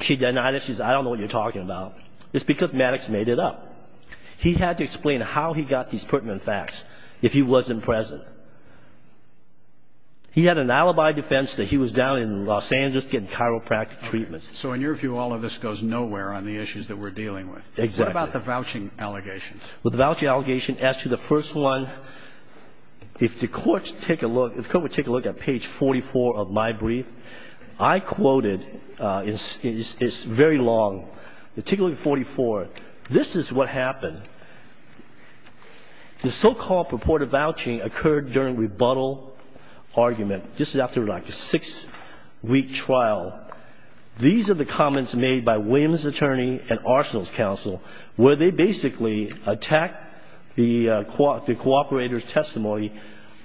She denied it. She said, I don't know what you're talking about. It's because Maddox made it up. He had to explain how he got these pertinent facts if he wasn't present. He had an alibi defense that he was down in Los Angeles getting chiropractic treatment. So in your view, all of this goes nowhere on the issues that we're dealing with. Exactly. What about the vouching allegations? Well, the vouching allegations, as to the first one, if the court would take a look at page 44 of my brief, I quoted, it's very long, particularly 44. This is what happened. The so-called purported vouching occurred during rebuttal argument. This is after about a six-week trial. These are the comments made by Williams' attorney and Arsenal's counsel, where they basically attacked the cooperator's testimony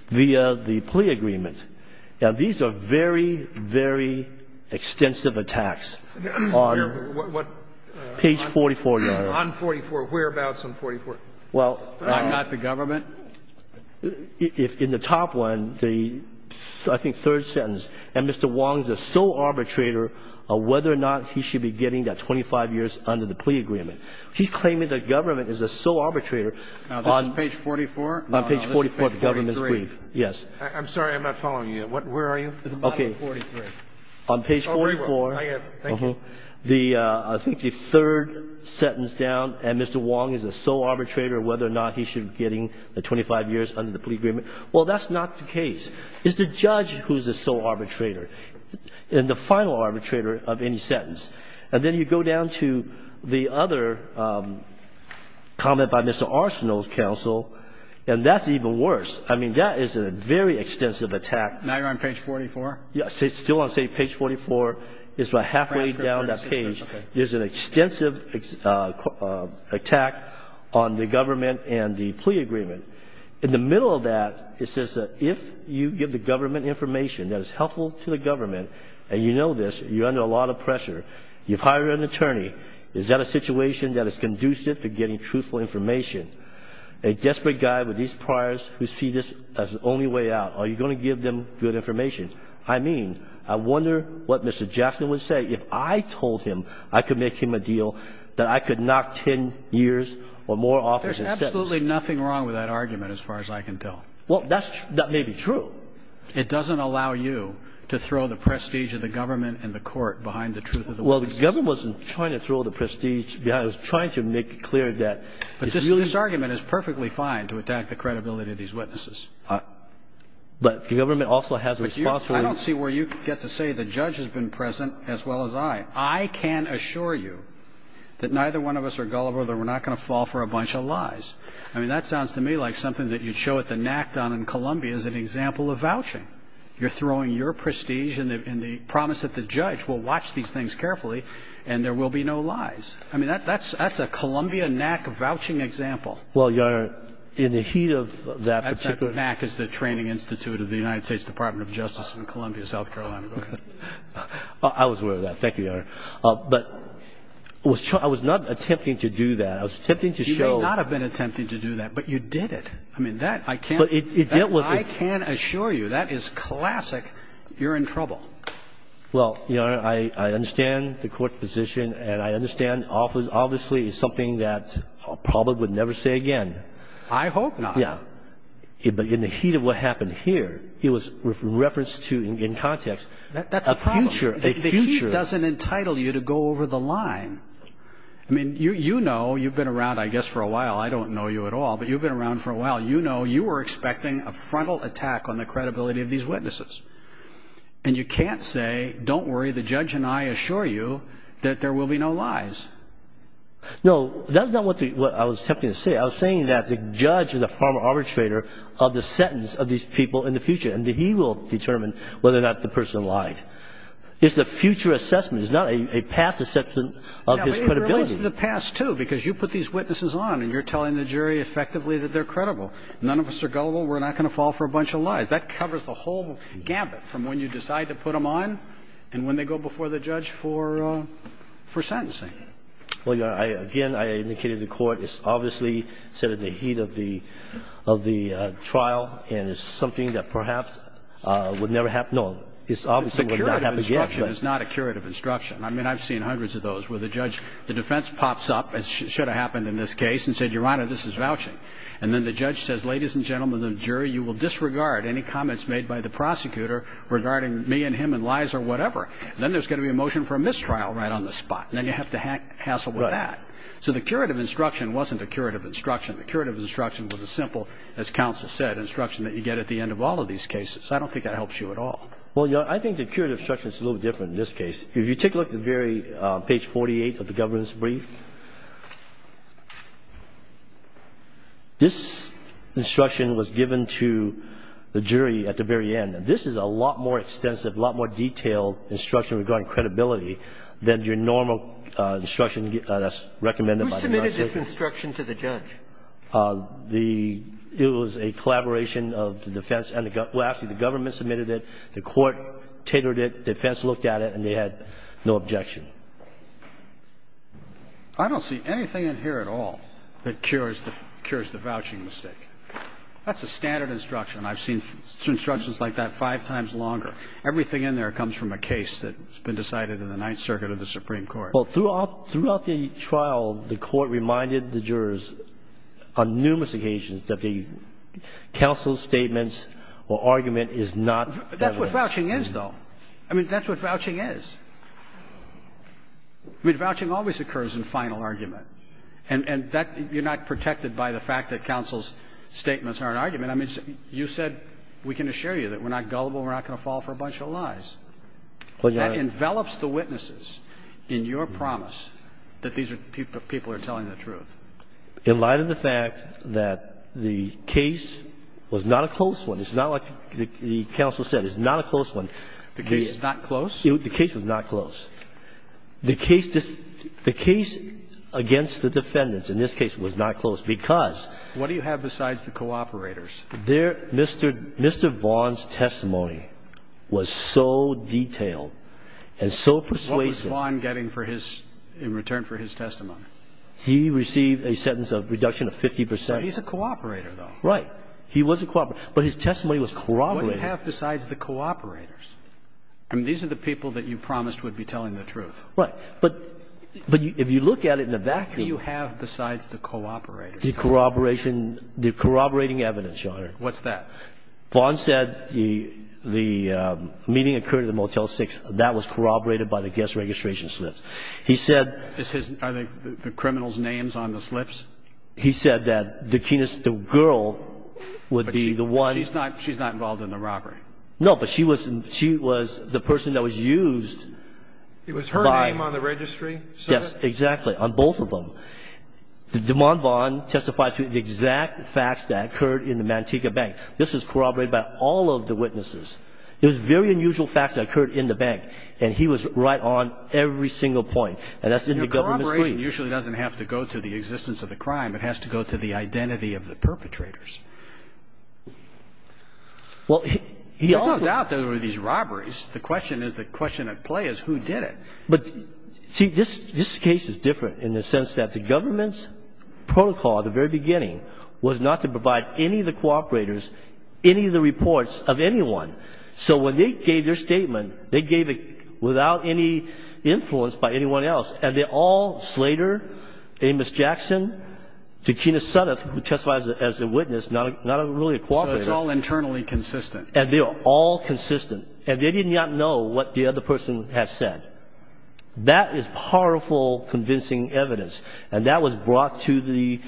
via the plea agreement. Now, these are very, very extensive attacks on page 44. On 44. Whereabouts on 44? Well... Not the government? In the top one, the, I think, third sentence, and Mr. Wong is a sole arbitrator of whether or not he should be getting that 25 years under the plea agreement. He's claiming that government is a sole arbitrator. Now, this is page 44? On page 44 of the government's brief. Page 43. Yes. I'm sorry, I'm not following you. Where are you? Okay. On page 44, the, I think, the third sentence down, and Mr. Wong is a sole arbitrator of whether or not he should be getting the 25 years under the plea agreement. Well, that's not the case. It's the judge who's the sole arbitrator, and the final arbitrator of any sentence. And then you go down to the other comment by Mr. Arsenal's counsel, and that's even worse. I mean, that is a very extensive attack. Now you're on page 44? Yes. Still on, say, page 44. It's about halfway down that page. There's an extensive attack on the government and the plea agreement. In the middle of that, it says that if you give the government information that is helpful to the government, and you know this, you're under a lot of pressure. You've hired an attorney. Is that a situation that is conducive to getting truthful information? A desperate guy with these priors who sees this as the only way out. Are you going to give them good information? I mean, I wonder what Mr. Jackson would say if I told him I could make him a deal that I could knock 10 years or more off his sentence. There's absolutely nothing wrong with that argument as far as I can tell. Well, that may be true. It doesn't allow you to throw the prestige of the government and the court behind the truth of the word. Well, the government wasn't trying to throw the prestige. I was trying to make it clear that. But this argument is perfectly fine to attack the credibility of these witnesses. But the government also has a responsibility. I don't see where you get to say the judge has been present as well as I. I can assure you that neither one of us are gullible or that we're not going to fall for a bunch of lies. I mean, that sounds to me like something that you'd show at the nap down in Columbia as an example of vouching. You're throwing your prestige and the promise that the judge will watch these things carefully and there will be no lies. I mean, that's a Columbia NAC vouching example. Well, Your Honor, in the heat of that particular. NAC is the Training Institute of the United States Department of Justice in Columbia, South Carolina. Go ahead. I was aware of that. Thank you, Your Honor. But I was not attempting to do that. I was attempting to show. You may not have been attempting to do that, but you did it. I mean, that I can assure you. That is classic. You're in trouble. Well, Your Honor, I understand the court's position and I understand obviously something that I probably would never say again. I hope not. Yeah. But in the heat of what happened here, he was referenced to in context. That's a problem. A future. The heat doesn't entitle you to go over the line. I mean, you know, you've been around, I guess, for a while. I don't know you at all, but you've been around for a while. You know you were expecting a frontal attack on the credibility of these witnesses. And you can't say, don't worry, the judge and I assure you that there will be no lies. No, that's not what I was attempting to say. I was saying that the judge is a former arbitrator of the sentence of these people in the future and that he will determine whether or not the person lied. It's a future assessment. It's not a past assessment of his credibility. The past, too, because you put these witnesses on and you're telling the jury effectively that they're credible. None of us are gullible. We're not going to fall for a bunch of lies. That covers the whole gambit from when you decide to put them on and when they go before the judge for sentencing. Well, again, I indicated to the court it's obviously set in the heat of the trial and it's something that perhaps would never happen. No, it's obviously would not happen. It's not a curative instruction. I mean, I've seen hundreds of those where the defense pops up, as should have happened in this case, and said, Your Honor, this is vouching. And then the judge says, Ladies and gentlemen of the jury, you will disregard any comments made by the prosecutor regarding me and him and lies or whatever. Then there's going to be a motion for a mistrial right on the spot. Then you have to hassle with that. So the curative instruction wasn't a curative instruction. The curative instruction was a simple, as counsel said, instruction that you get at the end of all of these cases. I don't think that helps you at all. Well, I think the curative instruction is a little different in this case. If you take a look at the very page 48 of the government's brief, this instruction was given to the jury at the very end. And this is a lot more extensive, a lot more detailed instruction regarding credibility than your normal instruction that's recommended by the judge. Who submitted this instruction to the judge? It was a collaboration of the defense and the government. Well, actually, the government submitted it. The court tailored it. The defense looked at it, and they had no objection. I don't see anything in here at all that cures the vouching mistake. That's a standard instruction. I've seen instructions like that five times longer. Everything in there comes from a case that's been decided in the Ninth Circuit of the Supreme Court. Well, throughout the trial, the court reminded the jurors on numerous occasions that the counsel's statements or argument is not that way. That's what vouching is, though. I mean, that's what vouching is. I mean, vouching always occurs in final argument, and you're not protected by the fact that counsel's statements are an argument. I mean, you said we can assure you that we're not gullible, we're not going to fall for a bunch of lies. That envelops the witnesses in your promise that these people are telling the truth. In light of the fact that the case was not a close one, it's not like the counsel said, it's not a close one. The case is not close? The case was not close. The case against the defendants in this case was not close because... What do you have besides the cooperators? Mr. Vaughan's testimony was so detailed and so persuasive. What was Vaughan getting in return for his testimony? He received a sentence of reduction of 50%. He's a cooperator, though. Right. He was a cooperator, but his testimony was corroborated. What do you have besides the cooperators? I mean, these are the people that you promised would be telling the truth. Right. But if you look at it in the vacuum... What do you have besides the cooperators? The corroborating evidence, Your Honor. What's that? Vaughan said the meeting occurring at the Motel 6, that was corroborated by the guest registration slips. He said... Are the criminals' names on the slips? He said that the girl would be the one... She's not involved in the robbery. No, but she was the person that was used by... It was her name on the registry slip? Yes, exactly, on both of them. DeMond Vaughan testified to the exact facts that occurred in the Manteca Bank. This was corroborated by all of the witnesses. There's very unusual facts that occurred in the bank, and he was right on every single point, and that's in the government's name. Corroborating usually doesn't have to go to the existence of the crime. It has to go to the identity of the perpetrators. Well, he also... There's no doubt there were these robberies. The question at play is who did it. But, see, this case is different, in the sense that the government's protocol at the very beginning was not to provide any of the cooperators any of the reports of anyone. So when they gave their statement, they gave it without any influence by anyone else, and they all, Slater, Amos Jackson, to Tina Suttoth, who testified as a witness, not a really cooperative... So it's all internally consistent. And they're all consistent. And they did not know what the other person had said. That is powerful, convincing evidence, and that was brought to the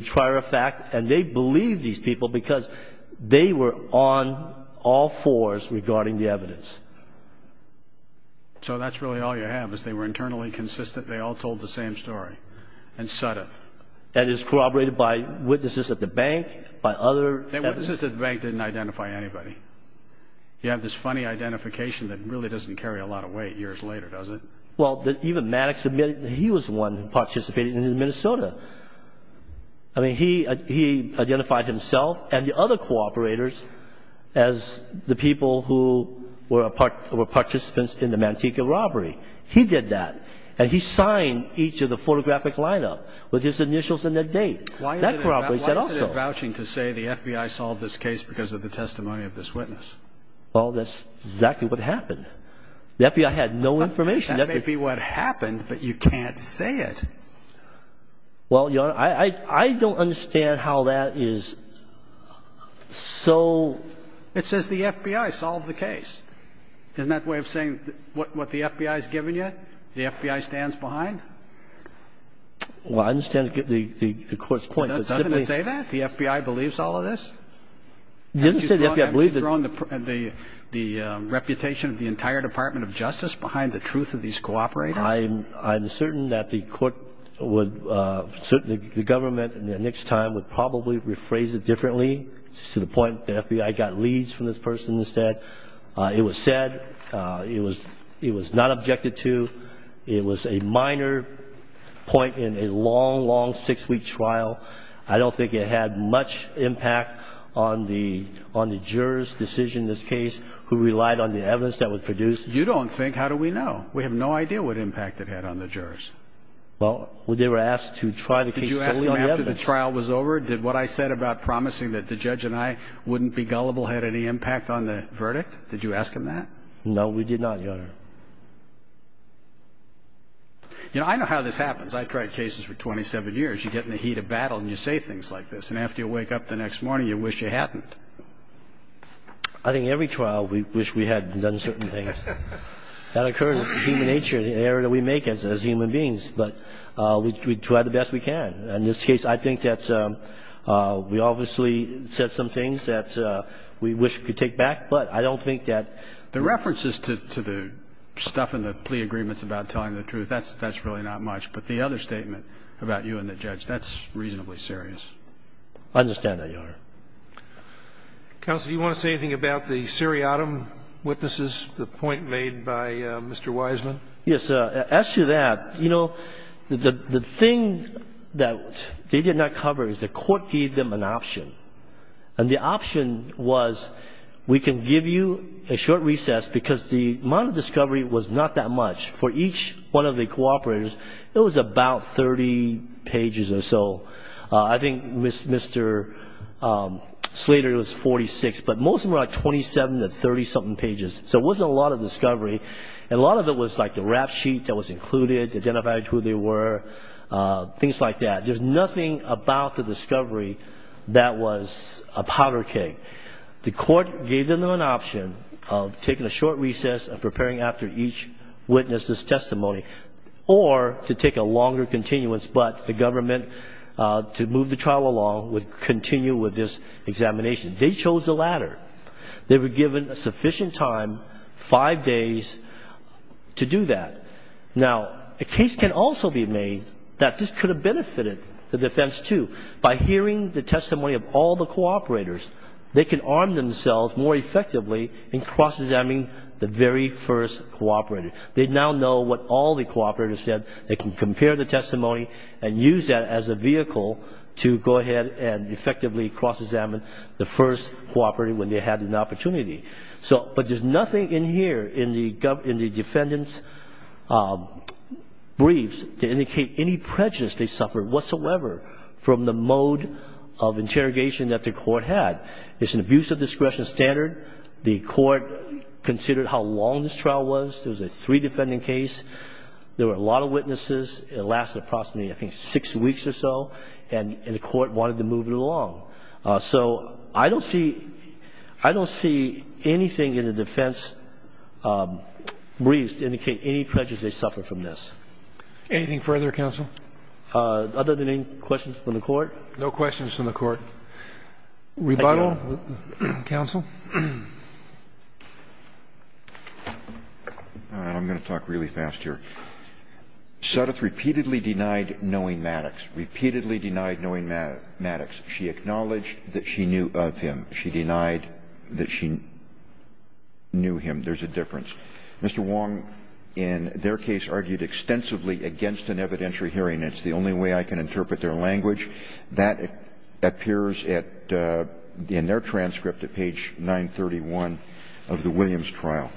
trier of fact, and they believed these people because they were on all fours regarding the evidence. So that's really all you have, is they were internally consistent, they all told the same story, and Suttoth. And it's corroborated by witnesses at the bank, by other... And witnesses at the bank didn't identify anybody. You have this funny identification that really doesn't carry a lot of weight years later, does it? Well, even Maddox admitted he was the one who participated in Minnesota. I mean, he identified himself and the other cooperators as the people who were participants in the Manteca robbery. He did that, and he signed each of the photographic lineup with his initials and the date. That corroborates that also. Why are they vouching to say the FBI solved this case because of the testimony of this witness? Well, that's exactly what happened. The FBI had no information. That may be what happened, but you can't say it. Well, Your Honor, I don't understand how that is so... It says the FBI solved the case. Isn't that a way of saying what the FBI has given you, the FBI stands behind? Well, I understand the court's point, but simply... Doesn't it say that, the FBI believes all of this? You understand the FBI believes... Have you thrown the reputation of the entire Department of Justice behind the truth of these cooperators? I'm certain that the government next time would probably rephrase it differently to the point that the FBI got leads from this person instead. It was said, it was not objected to, it was a minor point in a long, long six-week trial. I don't think it had much impact on the jurors' decision in this case who relied on the evidence that was produced. You don't think? How do we know? We have no idea what impact it had on the jurors. Well, they were asked to try the case... Did you ask them after the trial was over? Did what I said about promising that the judge and I wouldn't be gullible had any impact on the verdict? Did you ask them that? No, we did not, Your Honor. You know, I know how this happens. I've tried cases for 27 years. You get in the heat of battle and you say things like this, and after you wake up the next morning, you wish you hadn't. I think every trial, we wish we hadn't done certain things. That occurs with human nature, the error that we make as human beings. But we try the best we can. In this case, I think that we obviously said some things that we wish we could take back, but I don't think that... The references to the stuff in the plea agreements about telling the truth, that's really not much, but the other statement about you and the judge, that's reasonably serious. I understand that, Your Honor. Counsel, do you want to say anything about the seriatim witnesses, the point made by Mr. Wiseman? Yes, to answer that, you know, the thing that they did not cover is the court gave them an option. And the option was, we can give you a short recess because the amount of discovery was not that much. For each one of the cooperators, it was about 30 pages or so. I think Mr. Slater, it was 46, but most of them were like 27 to 30-something pages. So it wasn't a lot of discovery. A lot of it was like the rap sheet that was included, identified who they were, things like that. There's nothing about the discovery that was a powder keg. The court gave them an option of taking a short recess and preparing after each witness' testimony, or to take a longer continuance, but the government, to move the trial along, would continue with this examination. They chose the latter. They were given a sufficient time, five days, to do that. Now, a case can also be made that this could have benefited the defense, too. By hearing the testimony of all the cooperators, they can arm themselves more effectively in cross-examining the very first cooperator. They now know what all the cooperators said. They can compare the testimony and use that as a vehicle to go ahead and effectively cross-examine the first cooperator when they had an opportunity. But there's nothing in here, in the defendant's briefs, to indicate any prejudice they suffered whatsoever from the mode of interrogation that the court had. It's an abusive discretion standard. The court considered how long this trial was. It was a three-defendant case. There were a lot of witnesses. It lasted approximately, I think, six weeks or so, and the court wanted to move it along. So I don't see anything in the defense briefs to indicate any prejudice they suffered from this. Anything further, counsel? No questions from the court. Rebuttal, counsel? I'm going to talk really fast here. Suddath repeatedly denied knowing Maddox. Repeatedly denied knowing Maddox. She acknowledged that she knew of him. She denied that she knew him. There's a difference. Mr. Wong, in their case, argued extensively against an evidentiary hearing. It's the only way I can interpret their language. That appears in their transcript at page 931 of the Williams trial.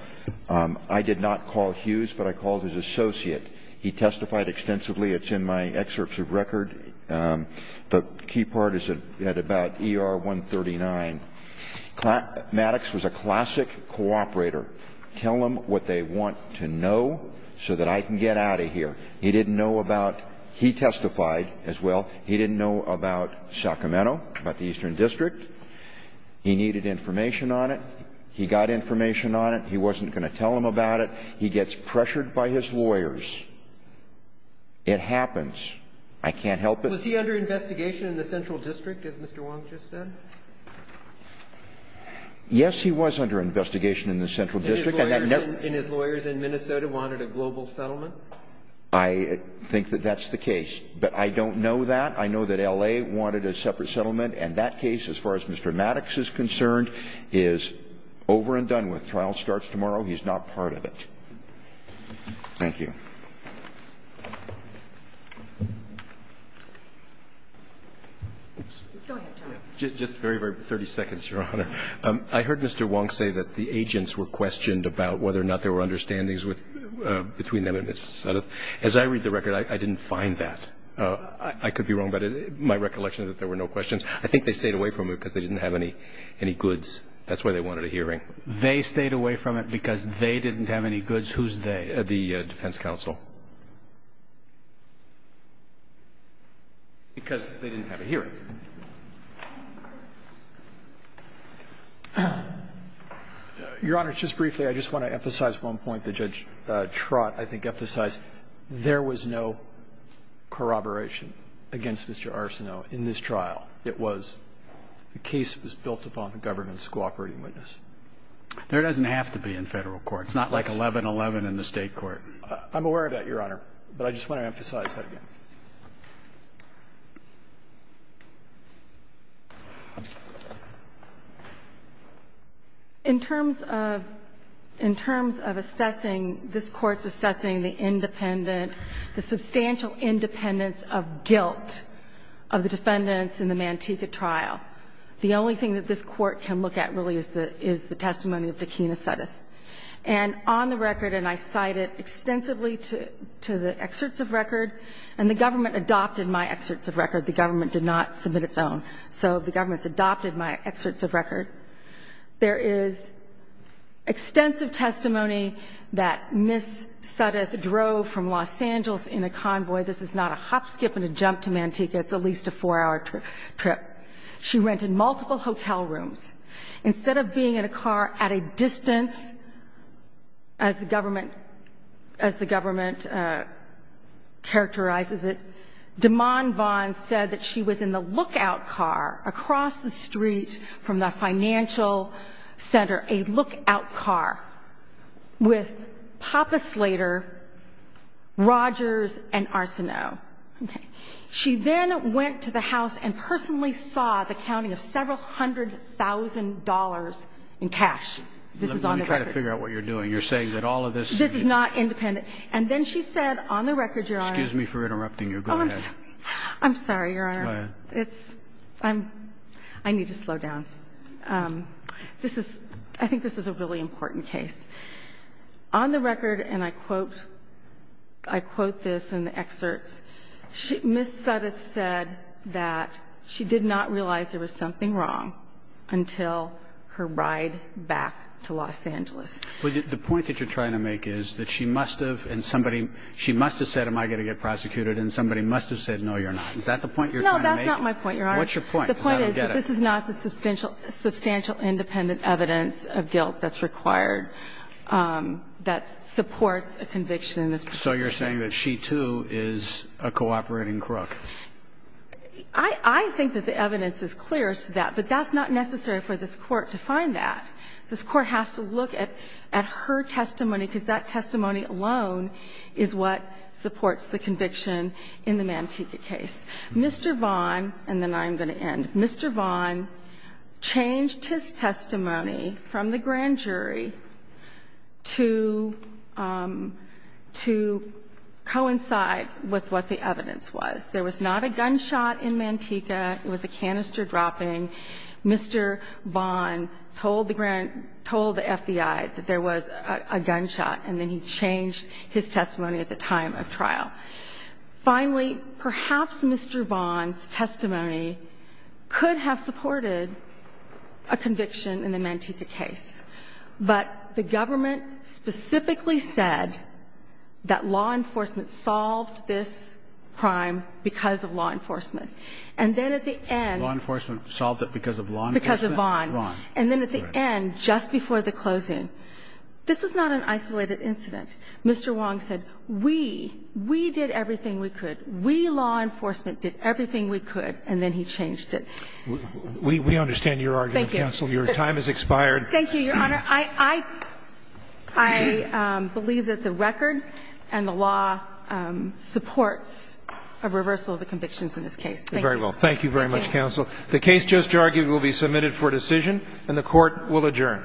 I did not call Hughes, but I called his associate. He testified extensively. It's in my excerpts of record. The key part is at about ER 139. Maddox was a classic cooperator. Tell them what they want to know so that I can get out of here. He didn't know about he testified as well. He didn't know about Sacramento, about the Eastern District. He needed information on it. He got information on it. He wasn't going to tell them about it. He gets pressured by his lawyers. It happens. I can't help it. Was he under investigation in the Central District, as Mr. Wong just said? Yes, he was under investigation in the Central District. And his lawyers in Minnesota wanted a global settlement? I think that that's the case. But I don't know that. I know that L.A. wanted a separate settlement. And that case, as far as Mr. Maddox is concerned, is over and done with. Trial starts tomorrow. He's not part of it. Thank you. Go ahead. Just 30 seconds, Your Honor. I heard Mr. Wong say that the agents were questioned about whether or not there were understandings between them. As I read the record, I didn't find that. I could be wrong, but my recollection is that there were no questions. I think they stayed away from it because they didn't have any goods. That's why they wanted a hearing. They stayed away from it because they didn't have any goods? Who's they? The defense counsel. Because they didn't have a hearing. Your Honor, just briefly, I just want to emphasize one point that Judge Trott, I think, emphasized. There was no corroboration against Mr. Arsenault in this trial. It was a case that was built upon the government's cooperating witness. There doesn't have to be in federal court. It's not like 11-11 in the state court. I'm aware of that, Your Honor. But I just want to emphasize that again. Thank you. In terms of assessing, this Court's assessing the independent, the substantial independence of guilt of the defendants in the Manteca trial, the only thing that this Court can look at, really, is the testimony of the keen assessor. And on the record, and I cite it extensively to the excerpts of record and the government adopted my excerpts of record. The government did not submit its own. So the government's adopted my excerpts of record. There is extensive testimony that Ms. Suttis drove from Los Angeles in a convoy. This is not a hop, skip, and a jump to Manteca. It's at least a four-hour trip. She rented multiple hotel rooms. Instead of being in a car at a distance, as the government characterizes it, Demond Vaughn said that she was in the lookout car across the street from the financial center, a lookout car, with Papa Slater, Rogers, and Arsenault. She then went to the house and personally saw the counting of several hundred thousand dollars in cash. This is on the record. Let me try to figure out what you're doing. You're saying that all of this is not independent. And then she said, on the record, Your Honor. Excuse me for interrupting you. Go ahead. I'm sorry, Your Honor. Go ahead. I need to slow down. I think this is a really important case. On the record, and I quote this in the excerpt, Ms. Suttis said that she did not realize there was something wrong until her ride back to Los Angeles. The point that you're trying to make is that she must have said, am I going to get prosecuted, and somebody must have said, no, you're not. Is that the point you're trying to make? No, that's not my point, Your Honor. What's your point? The point is that this is not the substantial independent evidence of guilt that's required that supports a conviction. So you're saying that she, too, is a cooperating crook. I think that the evidence is clear as to that, but that's not necessary for this Court to find that. This Court has to look at her testimony, because that testimony alone is what supports the conviction in the Manateeca case. Mr. Vaughn, and then I'm going to end, Mr. Vaughn changed his testimony from the grand jury to coincide with what the evidence was. There was not a gunshot in Manateeca. It was a canister dropping. Mr. Vaughn told the FBI that there was a gunshot, and then he changed his testimony at the time of trial. Finally, perhaps Mr. Vaughn's testimony could have supported a conviction in the Manateeca case, but the government specifically said that law enforcement solved this crime because of law enforcement. And then at the end... Law enforcement solved it because of law enforcement? Because of Vaughn. And then at the end, just before the closing, this was not an isolated incident. Mr. Vaughn said, we, we did everything we could. We, law enforcement, did everything we could, and then he changed it. We understand your argument, counsel. Thank you. Your time has expired. Thank you, Your Honor. I believe that the record and the law support a reversal of the convictions in this case. Very well. Thank you very much, counsel. The case just argued will be submitted for decision, and the Court will adjourn.